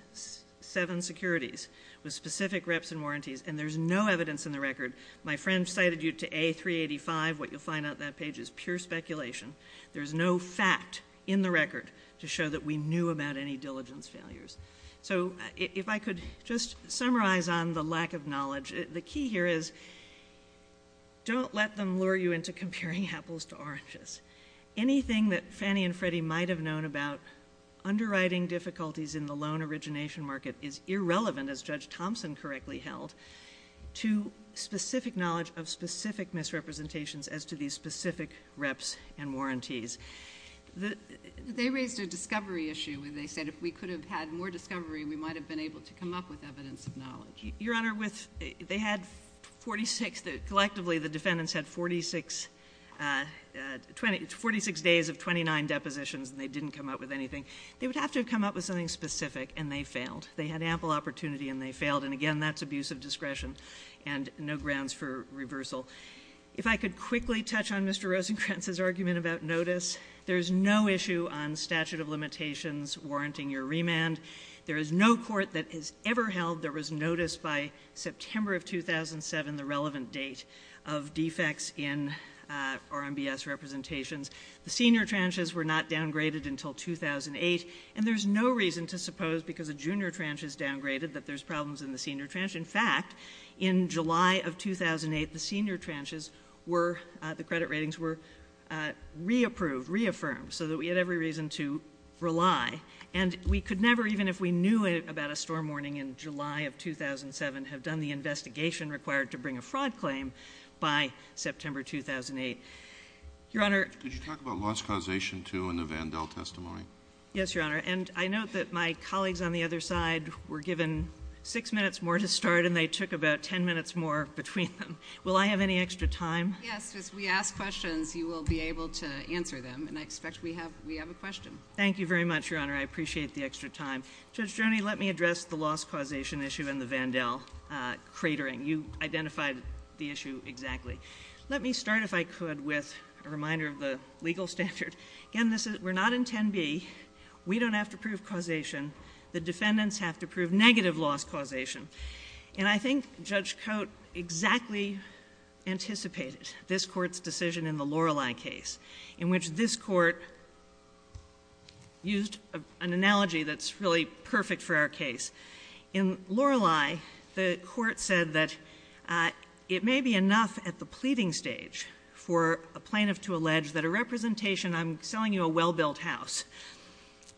seven securities with specific reps and warranties, and there's no evidence in the record. My friend cited you to A385. What you'll find on that page is pure speculation. There's no fact in the record to show that we knew about any diligence failures. So if I could just summarize on the lack of knowledge. The key here is don't let them lure you into comparing apples to oranges. Anything that Fannie and Freddie might have known about underwriting difficulties in the loan origination market is irrelevant, as Judge Thompson correctly held, to specific knowledge of specific misrepresentations as to these specific reps and warranties. They raised a discovery issue. They said if we could have had more discovery, we might have been able to come up with evidence of knowledge. Your Honor, they had 46. Collectively, the defendants had 46 days of 29 depositions, and they didn't come up with anything. They would have to have come up with something specific, and they failed. They had ample opportunity, and they failed. And again, that's abuse of discretion and no grounds for reversal. If I could quickly touch on Mr. Rosenkranz's argument about notice, there's no issue on statute of limitations warranting your remand. There is no court that has ever held there was notice by September of 2007, the relevant date, of defects in RMBS representations. The senior tranches were not downgraded until 2008, and there's no reason to suppose because the junior tranche is downgraded that there's problems in the senior tranche. In fact, in July of 2008, the senior tranches were – the credit ratings were reapproved, reaffirmed, so that we had every reason to rely. And we could never, even if we knew about a storm warning in July of 2007, have done the investigation required to bring a fraud claim by September 2008. Your Honor. Could you talk about loss causation, too, in the Vandell testimony? Yes, Your Honor. And I note that my colleagues on the other side were given six minutes more to start, and they took about 10 minutes more between them. Will I have any extra time? Yes. If we ask questions, you will be able to answer them, and I expect we have a question. Thank you very much, Your Honor. I appreciate the extra time. Judge Joni, let me address the loss causation issue in the Vandell cratering. You identified the issue exactly. Let me start, if I could, with a reminder of the legal standard. Again, we're not in 10B. We don't have to prove causation. The defendants have to prove negative loss causation. And I think Judge Cote exactly anticipated this Court's decision in the Lorelei case, in which this Court used an analogy that's really perfect for our case. In Lorelei, the Court said that it may be enough at the pleading stage for a plaintiff to allege that a representation, I'm selling you a well-built house,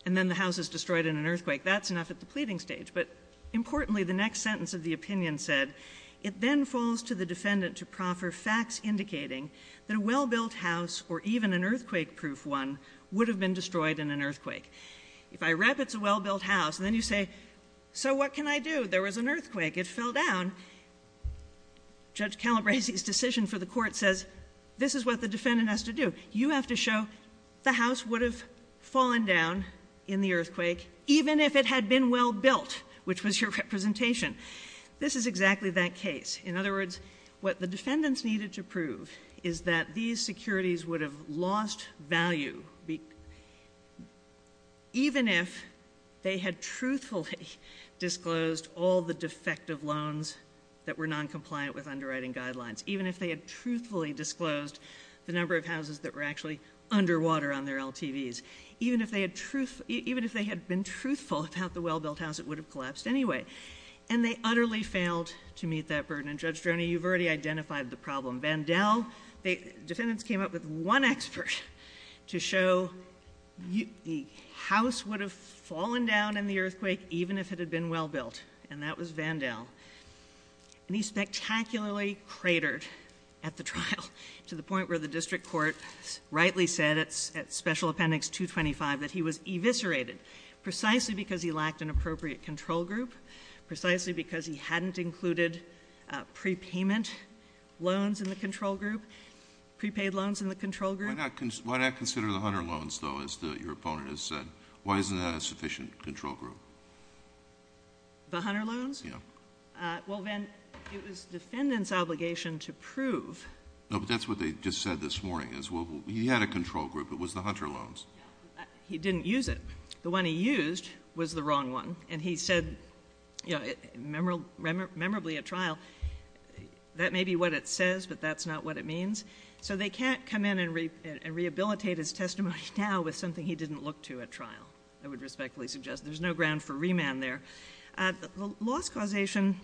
and then the house is destroyed in an earthquake. That's enough at the pleading stage. But importantly, the next sentence of the opinion said, it then falls to the defendant to proffer facts indicating that a well-built house, or even an earthquake-proof one, would have been destroyed in an earthquake. If I rep it's a well-built house, and then you say, so what can I do? There was an earthquake. It fell down. Judge Calabresi's decision for the Court says, this is what the defendant has to do. You have to show the house would have fallen down in the earthquake, even if it had been well-built, which was your representation. This is exactly that case. In other words, what the defendants needed to prove is that these securities would have lost value, even if they had truthfully disclosed all the defective loans that were noncompliant with underwriting guidelines. Even if they had truthfully disclosed the number of houses that were actually underwater on their LTVs. Even if they had been truthful about the well-built house, it would have collapsed anyway. And they utterly failed to meet that burden. And Judge Droney, you've already identified the problem. Vandell, the defendants came up with one expert to show the house would have fallen down in the earthquake, even if it had been well-built. And that was Vandell. And he spectacularly cratered at the trial, to the point where the District Court rightly said, at Special Appendix 225, that he was eviscerated. Precisely because he lacked an appropriate control group. Precisely because he hadn't included prepayment loans in the control group, prepaid loans in the control group. Why not consider the Hunter loans, though, as your opponent has said? Why isn't that a sufficient control group? The Hunter loans? Yeah. Well, then, it was the defendant's obligation to prove. No, but that's what they just said this morning, is he had a control group. It was the Hunter loans. He didn't use it. The one he used was the wrong one. And he said, you know, memorably at trial, that may be what it says, but that's not what it means. So they can't come in and rehabilitate his testimony now with something he didn't look to at trial. I would respectfully suggest there's no ground for remand there. The loss causation,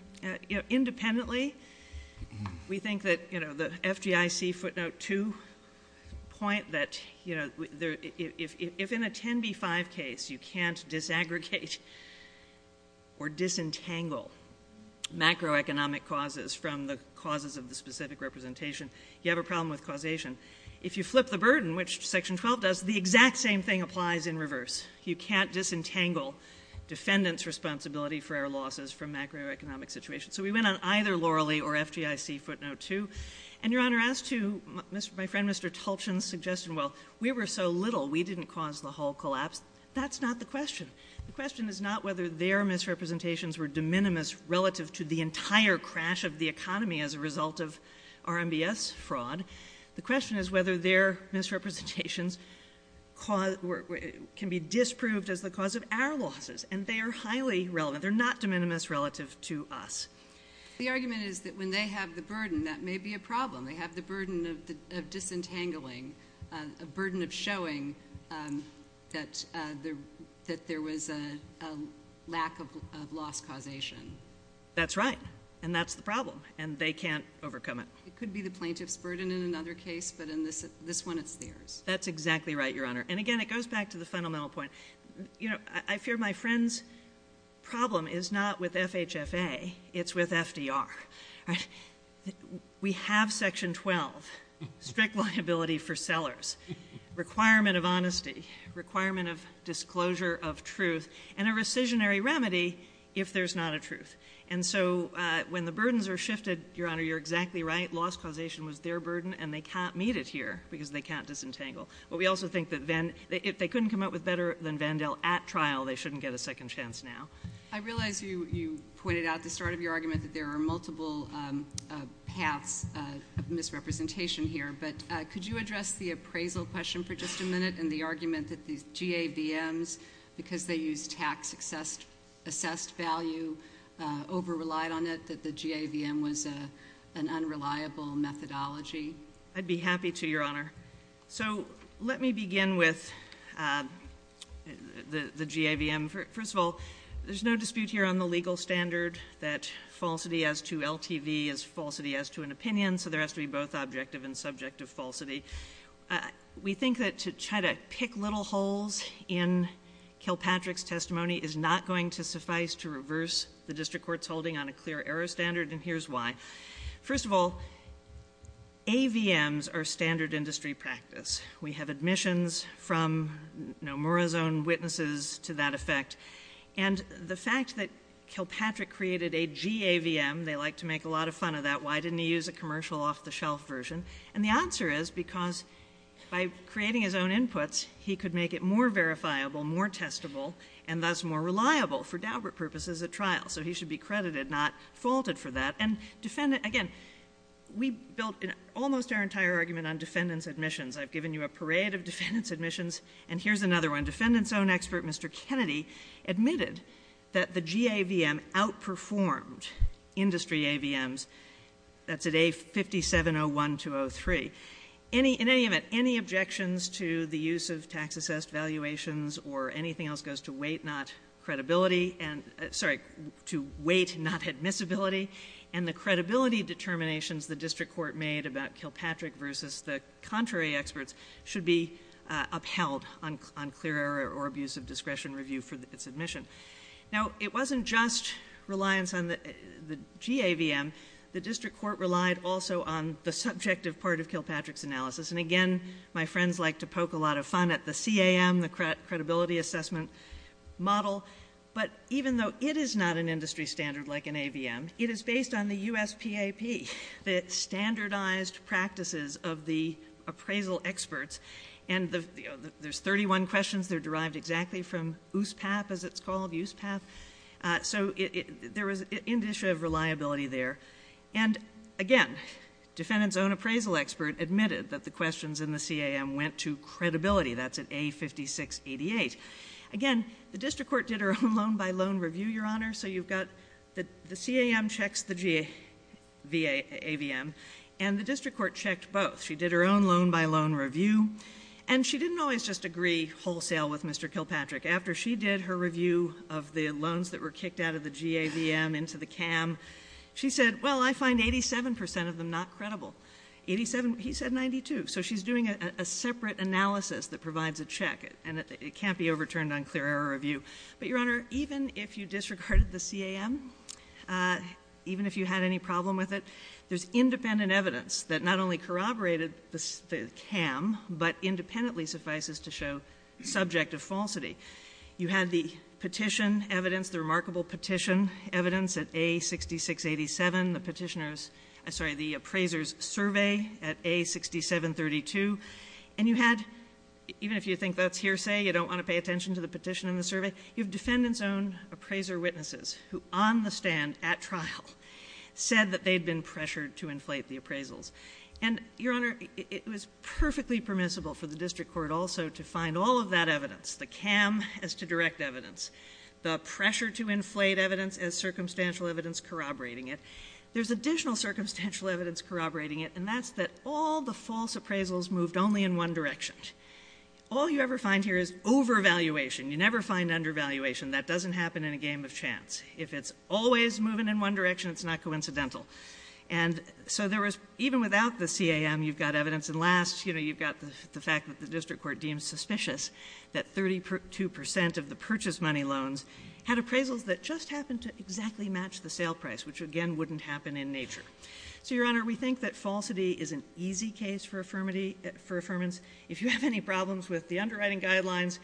you know, independently, we think that, you know, the FGIC footnote 2 point that, you know, if in a 10b-5 case you can't disaggregate or disentangle macroeconomic causes from the causes of the specific representation, you have a problem with causation. If you flip the burden, which Section 12 does, the exact same thing applies in reverse. You can't disentangle defendant's responsibility for our losses from macroeconomic situations. So we went on either Loralee or FGIC footnote 2. And, Your Honor, as to my friend Mr. Tulchin's suggestion, well, we were so little, we didn't cause the whole collapse. That's not the question. The question is not whether their misrepresentations were de minimis relative to the entire crash of the economy as a result of RMBS fraud. The question is whether their misrepresentations can be disproved as the cause of our losses. And they are highly relative. They're not de minimis relative to us. The argument is that when they have the burden, that may be a problem. They have the burden of disentangling, the burden of showing that there was a lack of loss causation. That's right. And that's the problem. And they can't overcome it. It could be the plaintiff's burden in another case, but in this one it's theirs. That's exactly right, Your Honor. And, again, it goes back to the fundamental point. You know, I fear my friend's problem is not with FHFA. It's with FDR. We have Section 12, strict liability for sellers, requirement of honesty, requirement of disclosure of truth, and a rescissionary remedy if there's not a truth. And so when the burdens are shifted, Your Honor, you're exactly right. Loss causation was their burden, and they can't meet it here because they can't disentangle. But we also think that if they couldn't come up with better than Vandell at trial, they shouldn't get a second chance now. I realize you pointed out at the start of your argument that there are multiple paths of misrepresentation here. But could you address the appraisal question for just a minute and the argument that these GAVMs, because they use tax assessed value, over relied on it, that the GAVM was an unreliable methodology? I'd be happy to, Your Honor. So let me begin with the GAVM. First of all, there's no dispute here on the legal standard that falsity as to LTV is falsity as to an opinion. So there has to be both objective and subjective falsity. We think that to try to pick little holes in Kilpatrick's testimony is not going to suffice to reverse the district court's holding on a clear error standard, and here's why. First of all, AVMs are standard industry practice. We have admissions from, you know, Morazone witnesses to that effect. And the fact that Kilpatrick created a GAVM, they like to make a lot of fun of that, why didn't he use a commercial off-the-shelf version? And the answer is because by creating his own inputs, he could make it more verifiable, more testable, and thus more reliable for deliberate purposes at trial. So he should be credited, not faulted for that. And again, we built almost our entire argument on defendant's admissions. I've given you a parade of defendant's admissions, and here's another one. The defendant's own expert, Mr. Kennedy, admitted that the GAVM outperformed industry AVMs. That's at A5701203. In any event, any objections to the use of tax assessed valuations or anything else goes to weight, not credibility, and sorry, to weight, not admissibility. And the credibility determinations the district court made about Kilpatrick versus the contrary experts should be upheld on clear or abuse of discretion review for its admission. Now, it wasn't just reliance on the GAVM. The district court relied also on the subjective part of Kilpatrick's analysis. And again, my friends like to poke a lot of fun at the CAM, the credibility assessment model. But even though it is not an industry standard like an AVM, it is based on the USTAP, the standardized practices of the appraisal experts. And there's 31 questions that are derived exactly from USPAP, as it's called, USPAP. So there was an issue of reliability there. And again, defendant's own appraisal expert admitted that the questions in the CAM went to credibility. That's at A5688. Again, the district court did her own loan-by-loan review, Your Honor. So you've got the CAM checks the AVM. And the district court checked both. She did her own loan-by-loan review. And she didn't always just agree wholesale with Mr. Kilpatrick. After she did her review of the loans that were kicked out of the GAVM into the CAM, she said, well, I find 87 percent of them not credible. He said 92. So she's doing a separate analysis that provides a check, and it can't be overturned on clear error review. But, Your Honor, even if you disregarded the CAM, even if you had any problem with it, there's independent evidence that not only corroborated the CAM, but independently suffices to show subjective falsity. You had the petition evidence, the remarkable petition evidence at A6687, the petitioner's – I'm sorry, the appraiser's survey at A6732. And you had – even if you think that's hearsay, you don't want to pay attention to the petition and the survey – you have defendant's own appraiser witnesses who on the stand at trial said that they'd been pressured to inflate the appraisals. And, Your Honor, it was perfectly permissible for the district court also to find all of that evidence, the CAM as to direct evidence, the pressure to inflate evidence as circumstantial evidence corroborating it. There's additional circumstantial evidence corroborating it, and that's that all the false appraisals moved only in one direction. All you ever find here is overvaluation. You never find undervaluation. That doesn't happen in a game of chance. If it's always moving in one direction, it's not coincidental. And so there was – even without the CAM, you've got evidence. And last, you know, you've got the fact that the district court deems suspicious that 32 percent of the purchase money loans had appraisals that just happened to exactly match the sale price, which, again, wouldn't happen in nature. So, Your Honor, we think that falsity is an easy case for affirmance. If you have any problems with the underwriting guidelines,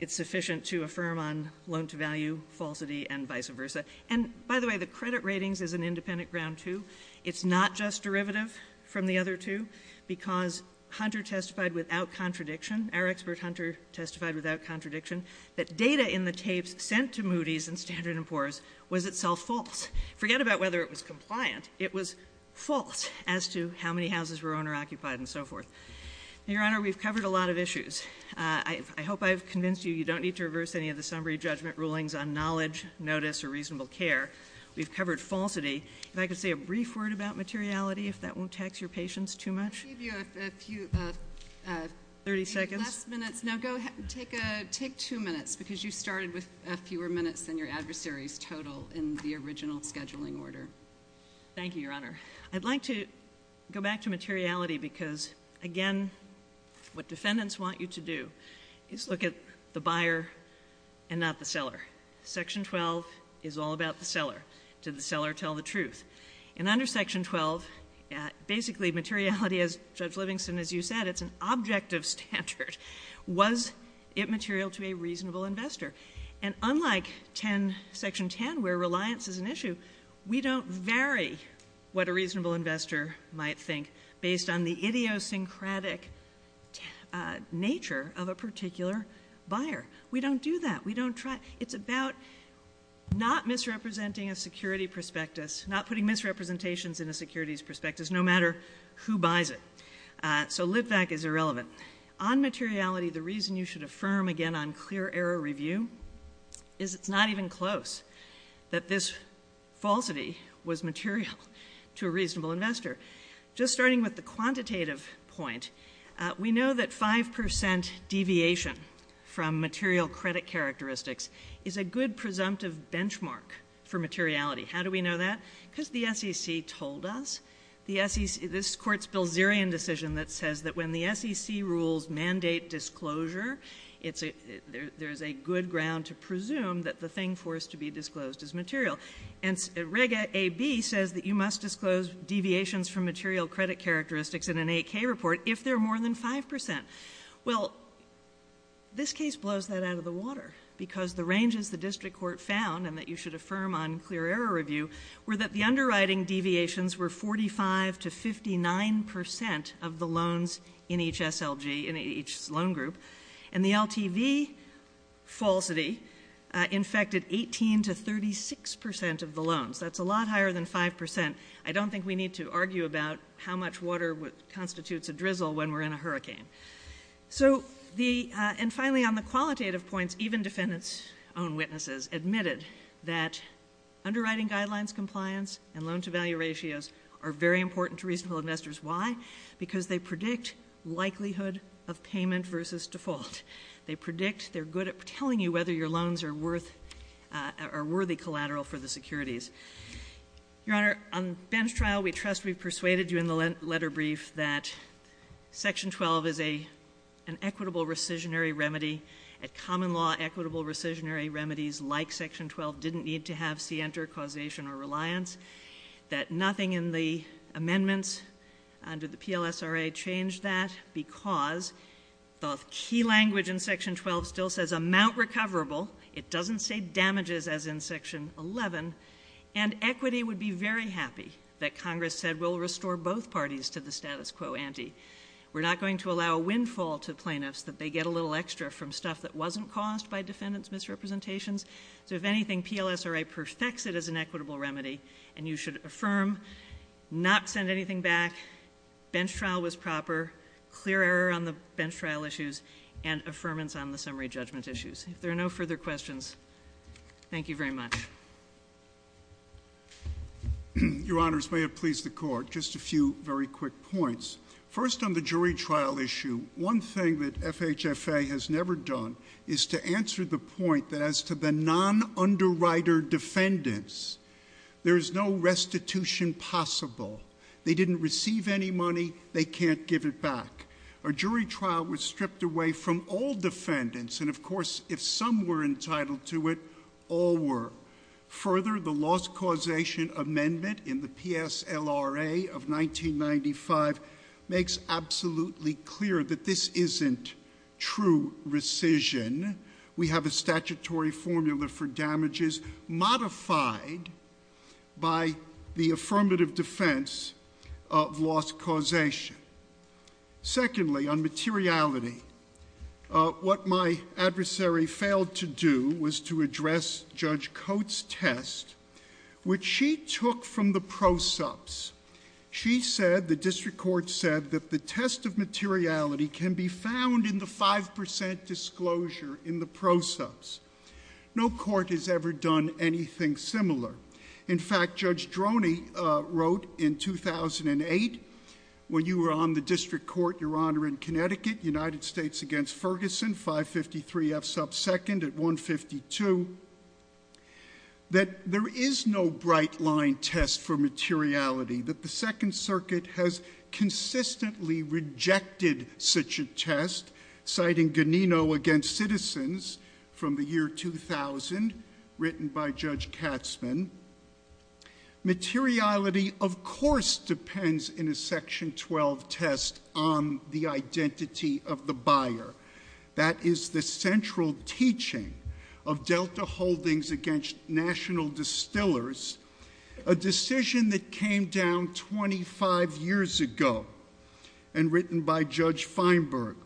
it's sufficient to affirm on loan-to-value falsity and vice versa. And, by the way, the credit ratings is an independent ground, too. It's not just derivative from the other two because Hunter testified without contradiction. Our expert, Hunter, testified without contradiction that data in the tapes sent to Moody's and Standard & Poor's was itself false. Forget about whether it was compliant. It was false as to how many houses were owner-occupied and so forth. Your Honor, we've covered a lot of issues. I hope I've convinced you you don't need to reverse any of the summary judgment rulings on knowledge, notice, or reasonable care. We've covered falsity. If I could say a brief word about materiality, if that won't tax your patience too much. I'll give you a few – 30 seconds. Last minute – no, go ahead. Take two minutes because you started with fewer minutes than your adversaries total in the original scheduling order. Thank you, Your Honor. I'd like to go back to materiality because, again, what defendants want you to do is look at the buyer and not the seller. Section 12 is all about the seller. Did the seller tell the truth? And under Section 12, basically, materiality, as Judge Livingston, as you said, it's an objective standard. Was it material to a reasonable investor? And unlike Section 10 where reliance is an issue, we don't vary what a reasonable investor might think based on the idiosyncratic nature of a particular buyer. We don't do that. We don't try. It's about not misrepresenting a security prospectus, not putting misrepresentations in a security prospectus no matter who buys it. So live back is irrelevant. On materiality, the reason you should affirm, again, on clear error review is it's not even close that this falsity was material to a reasonable investor. Just starting with the quantitative point, we know that 5% deviation from material credit characteristics is a good presumptive benchmark for materiality. How do we know that? Because the SEC told us. This Court's Bilzerian decision that says that when the SEC rules mandate disclosure, there's a good ground to presume that the thing forced to be disclosed is material. And Reg A.B. says that you must disclose deviations from material credit characteristics in an AK report if they're more than 5%. Well, this case blows that out of the water because the ranges the district court found, and that you should affirm on clear error review, were that the underwriting deviations were 45% to 59% of the loans in each SLG, in each loan group. And the LTV falsity infected 18% to 36% of the loans. That's a lot higher than 5%. I don't think we need to argue about how much water constitutes a drizzle when we're in a hurricane. And finally, on the qualitative points, even defendants' own witnesses admitted that underwriting guidelines compliance and loan-to-value ratios are very important to reasonable investors. Why? Because they predict likelihood of payment versus default. They predict they're good at telling you whether your loans are worthy collateral for the securities. Your Honor, on bench trial, we trust we've persuaded you in the letter brief that Section 12 is an equitable rescissionary remedy. At common law, equitable rescissionary remedies like Section 12 didn't need to have scienter, causation, or reliance. That nothing in the amendments under the PLSRA changed that because of key language in Section 12 still says amount recoverable. It doesn't say damages as in Section 11. And equity would be very happy that Congress said we'll restore both parties to the status quo ante. We're not going to allow a windfall to plaintiffs that they get a little extra from stuff that wasn't caused by defendants' misrepresentations. So if anything, PLSRA perfects it as an equitable remedy. And you should affirm, not send anything back, bench trial was proper, clear error on the bench trial issues, and affirmance on the summary judgment issues. If there are no further questions, thank you very much. Your Honors, may it please the Court, just a few very quick points. First on the jury trial issue, one thing that FHFA has never done is to answer the point that as to the non-underwriter defendants, there is no restitution possible. They didn't receive any money. They can't give it back. A jury trial was stripped away from all defendants. And of course, if some were entitled to it, all were. Further, the loss causation amendment in the PSLRA of 1995 makes absolutely clear that this isn't true rescission. We have a statutory formula for damages modified by the affirmative defense of loss causation. Secondly, on materiality, what my adversary failed to do was to address Judge Coates' test, which she took from the pro sups. She said, the district court said, that the test of materiality can be found in the 5% disclosure in the pro sups. No court has ever done anything similar. In fact, Judge Droney wrote in 2008, when you were on the district court, Your Honor, in Connecticut, United States against Ferguson, 553F sub 2nd at 152, that there is no bright line test for materiality. That the Second Circuit has consistently rejected such a test, citing Ganino against citizens from the year 2000, written by Judge Katzman. Materiality, of course, depends in a section 12 test on the identity of the buyer. That is the central teaching of Delta Holdings against National Distillers, a decision that came down 25 years ago and written by Judge Feinberg.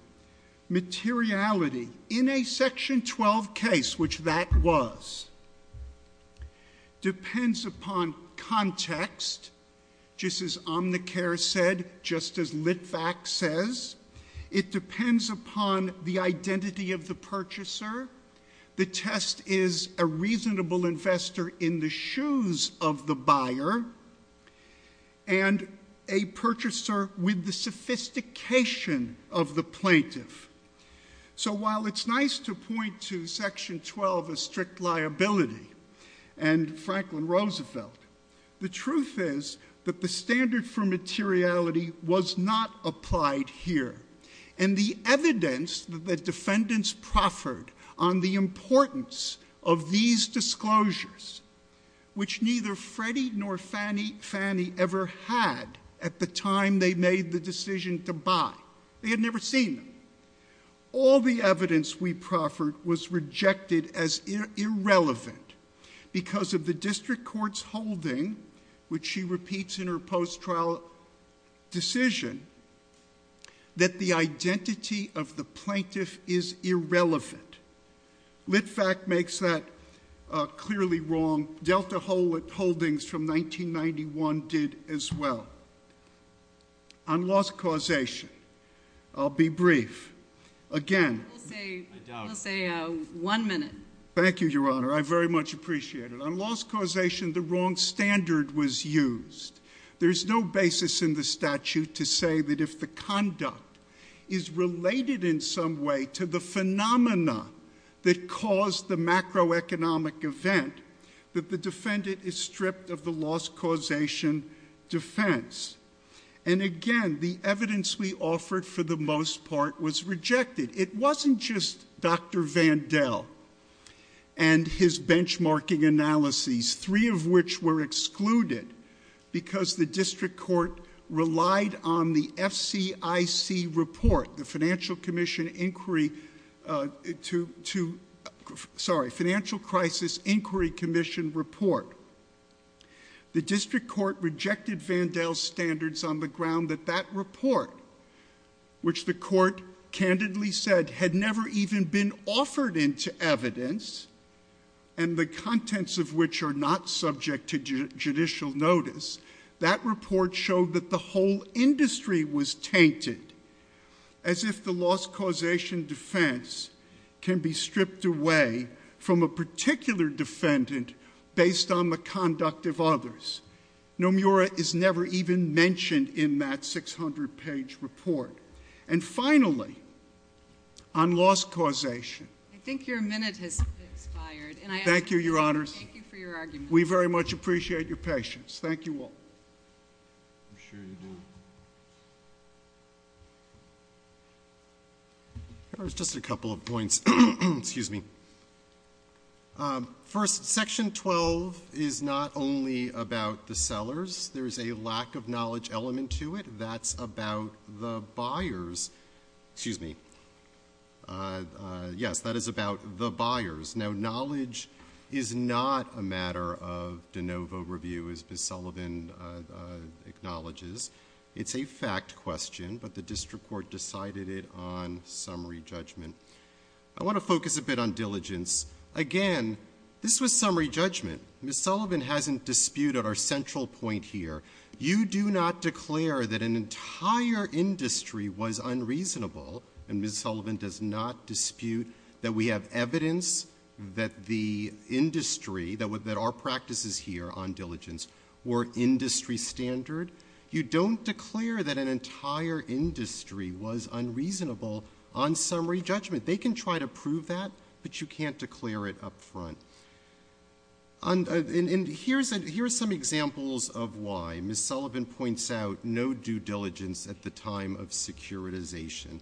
Materiality in a section 12 case, which that was, depends upon context, just as Omnicare said, just as Litvack says. It depends upon the identity of the purchaser. The test is a reasonable investor in the shoes of the buyer, and a purchaser with the sophistication of the plaintiff. So while it's nice to point to section 12 as strict liability and Franklin Roosevelt, the truth is that the standard for materiality was not applied here. And the evidence that the defendants proffered on the importance of these disclosures, which neither Freddie nor Fannie Fannie ever had at the time they made the decision to buy. They had never seen them. All the evidence we proffered was rejected as irrelevant because of the district court's holding, which she repeats in her post-trial decision, that the identity of the plaintiff is irrelevant. Litvack makes that clearly wrong. Delta Holdings from 1991 did as well. On loss causation, I'll be brief. Again. I'll say one minute. Thank you, Your Honor. I very much appreciate it. On loss causation, the wrong standard was used. There's no basis in the statute to say that if the conduct is related in some way to the phenomena that caused the macroeconomic event, that the defendant is stripped of the loss causation defense. And again, the evidence we offered for the most part was rejected. It wasn't just Dr. Vandell and his benchmarking analyses, three of which were excluded because the district court relied on the FCIC report, the Financial Crisis Inquiry Commission report. The district court rejected Vandell's standards on the ground that that report, which the court candidly said had never even been offered into evidence, and the contents of which are not subject to judicial notice, that report showed that the whole industry was tainted, as if the loss causation defense can be stripped away from a particular defendant based on the conduct of others. Nomura is never even mentioned in that 600-page report. And finally, on loss causation. I think your minute has expired. Thank you, Your Honors. Thank you for your argument. We very much appreciate your patience. Thank you all. There's just a couple of points. Excuse me. First, Section 12 is not only about the sellers. There's a lack of knowledge element to it. That's about the buyers. Excuse me. Yes, that is about the buyers. Now, knowledge is not a matter of de novo review, as Ms. Sullivan acknowledges. It's a fact question, but the district court decided it on summary judgment. I want to focus a bit on diligence. Again, this was summary judgment. Ms. Sullivan hasn't disputed our central point here. You do not declare that an entire industry was unreasonable, and Ms. Sullivan does not dispute that we have evidence that the industry, that our practices here on diligence were industry standard. You don't declare that an entire industry was unreasonable on summary judgment. They can try to prove that, but you can't declare it up front. And here's some examples of why. Ms. Sullivan points out no due diligence at the time of securitization.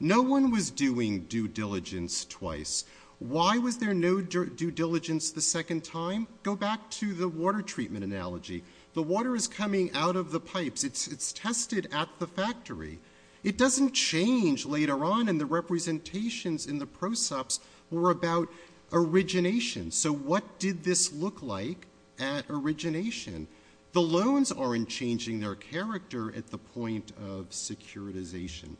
No one was doing due diligence twice. Why was there no due diligence the second time? Go back to the water treatment analogy. The water is coming out of the pipes. It's tested at the factory. It doesn't change later on, and the representations in the process were about origination. So what did this look like at origination? The loans aren't changing their character at the point of securitization.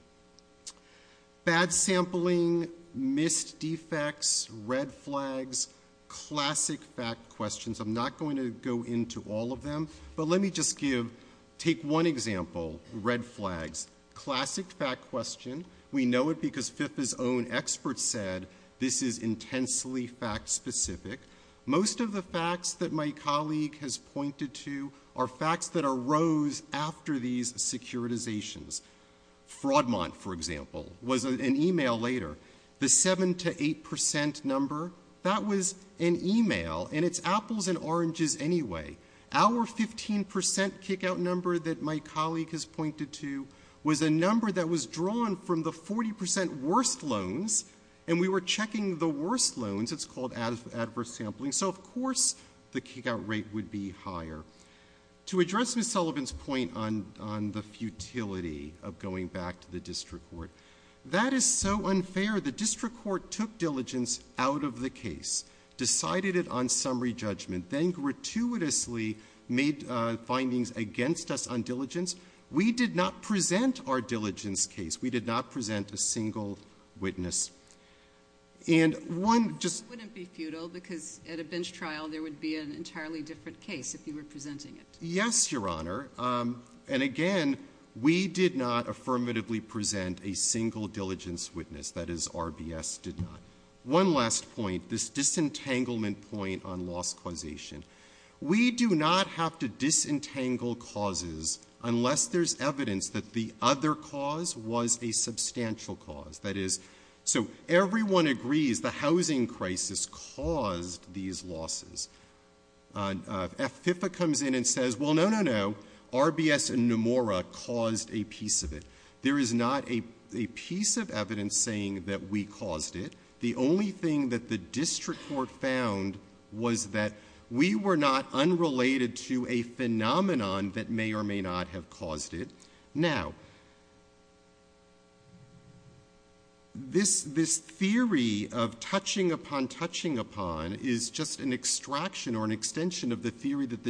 Bad sampling, missed defects, red flags, classic fact questions. I'm not going to go into all of them. But let me just give, take one example, red flags, classic fact question. We know it because FIFA's own experts said this is intensely fact specific. Most of the facts that my colleague has pointed to are facts that arose after these securitizations. Fraudmont, for example, was an email later. The 7% to 8% number, that was an email, and it's apples and oranges anyway. Our 15% kickout number that my colleague has pointed to was a number that was drawn from the 40% worst loans, and we were checking the worst loans. It's called adverse sampling. So, of course, the kickout rate would be higher. To address Ms. Sullivan's point on the futility of going back to the district court, that is so unfair. The district court took diligence out of the case, decided it on summary judgment, then gratuitously made findings against us on diligence. We did not present our diligence case. We did not present a single witness. And one just- It wouldn't be futile because at a bench trial there would be an entirely different case if you were presenting it. Yes, Your Honor. And, again, we did not affirmatively present a single diligence witness. That is, RBS did not. One last point, this disentanglement point on loss causation. We do not have to disentangle causes unless there's evidence that the other cause was a substantial cause. That is, so everyone agrees the housing crisis caused these losses. If FIFA comes in and says, well, no, no, no, RBS and Nomura caused a piece of it, there is not a piece of evidence saying that we caused it. The only thing that the district court found was that we were not unrelated to a phenomenon that may or may not have caused it. Now, this theory of touching upon touching upon is just an extraction or an extension of the theory that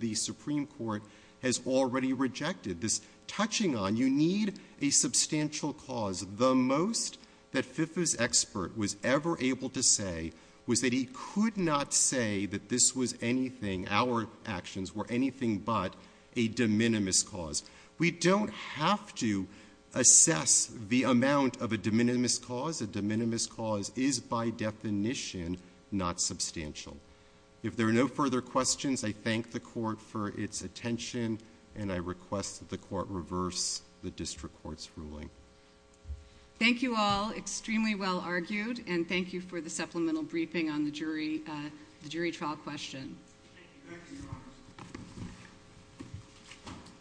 the Supreme Court has already rejected. This touching on, you need a substantial cause. The most that FIFA's expert was ever able to say was that he could not say that this was anything, our actions were anything but a de minimis cause. We don't have to assess the amount of a de minimis cause. A de minimis cause is, by definition, not substantial. If there are no further questions, I thank the court for its attention, and I request that the court reverse the district court's ruling. Thank you all. Extremely well argued, and thank you for the supplemental briefing on the jury trial question.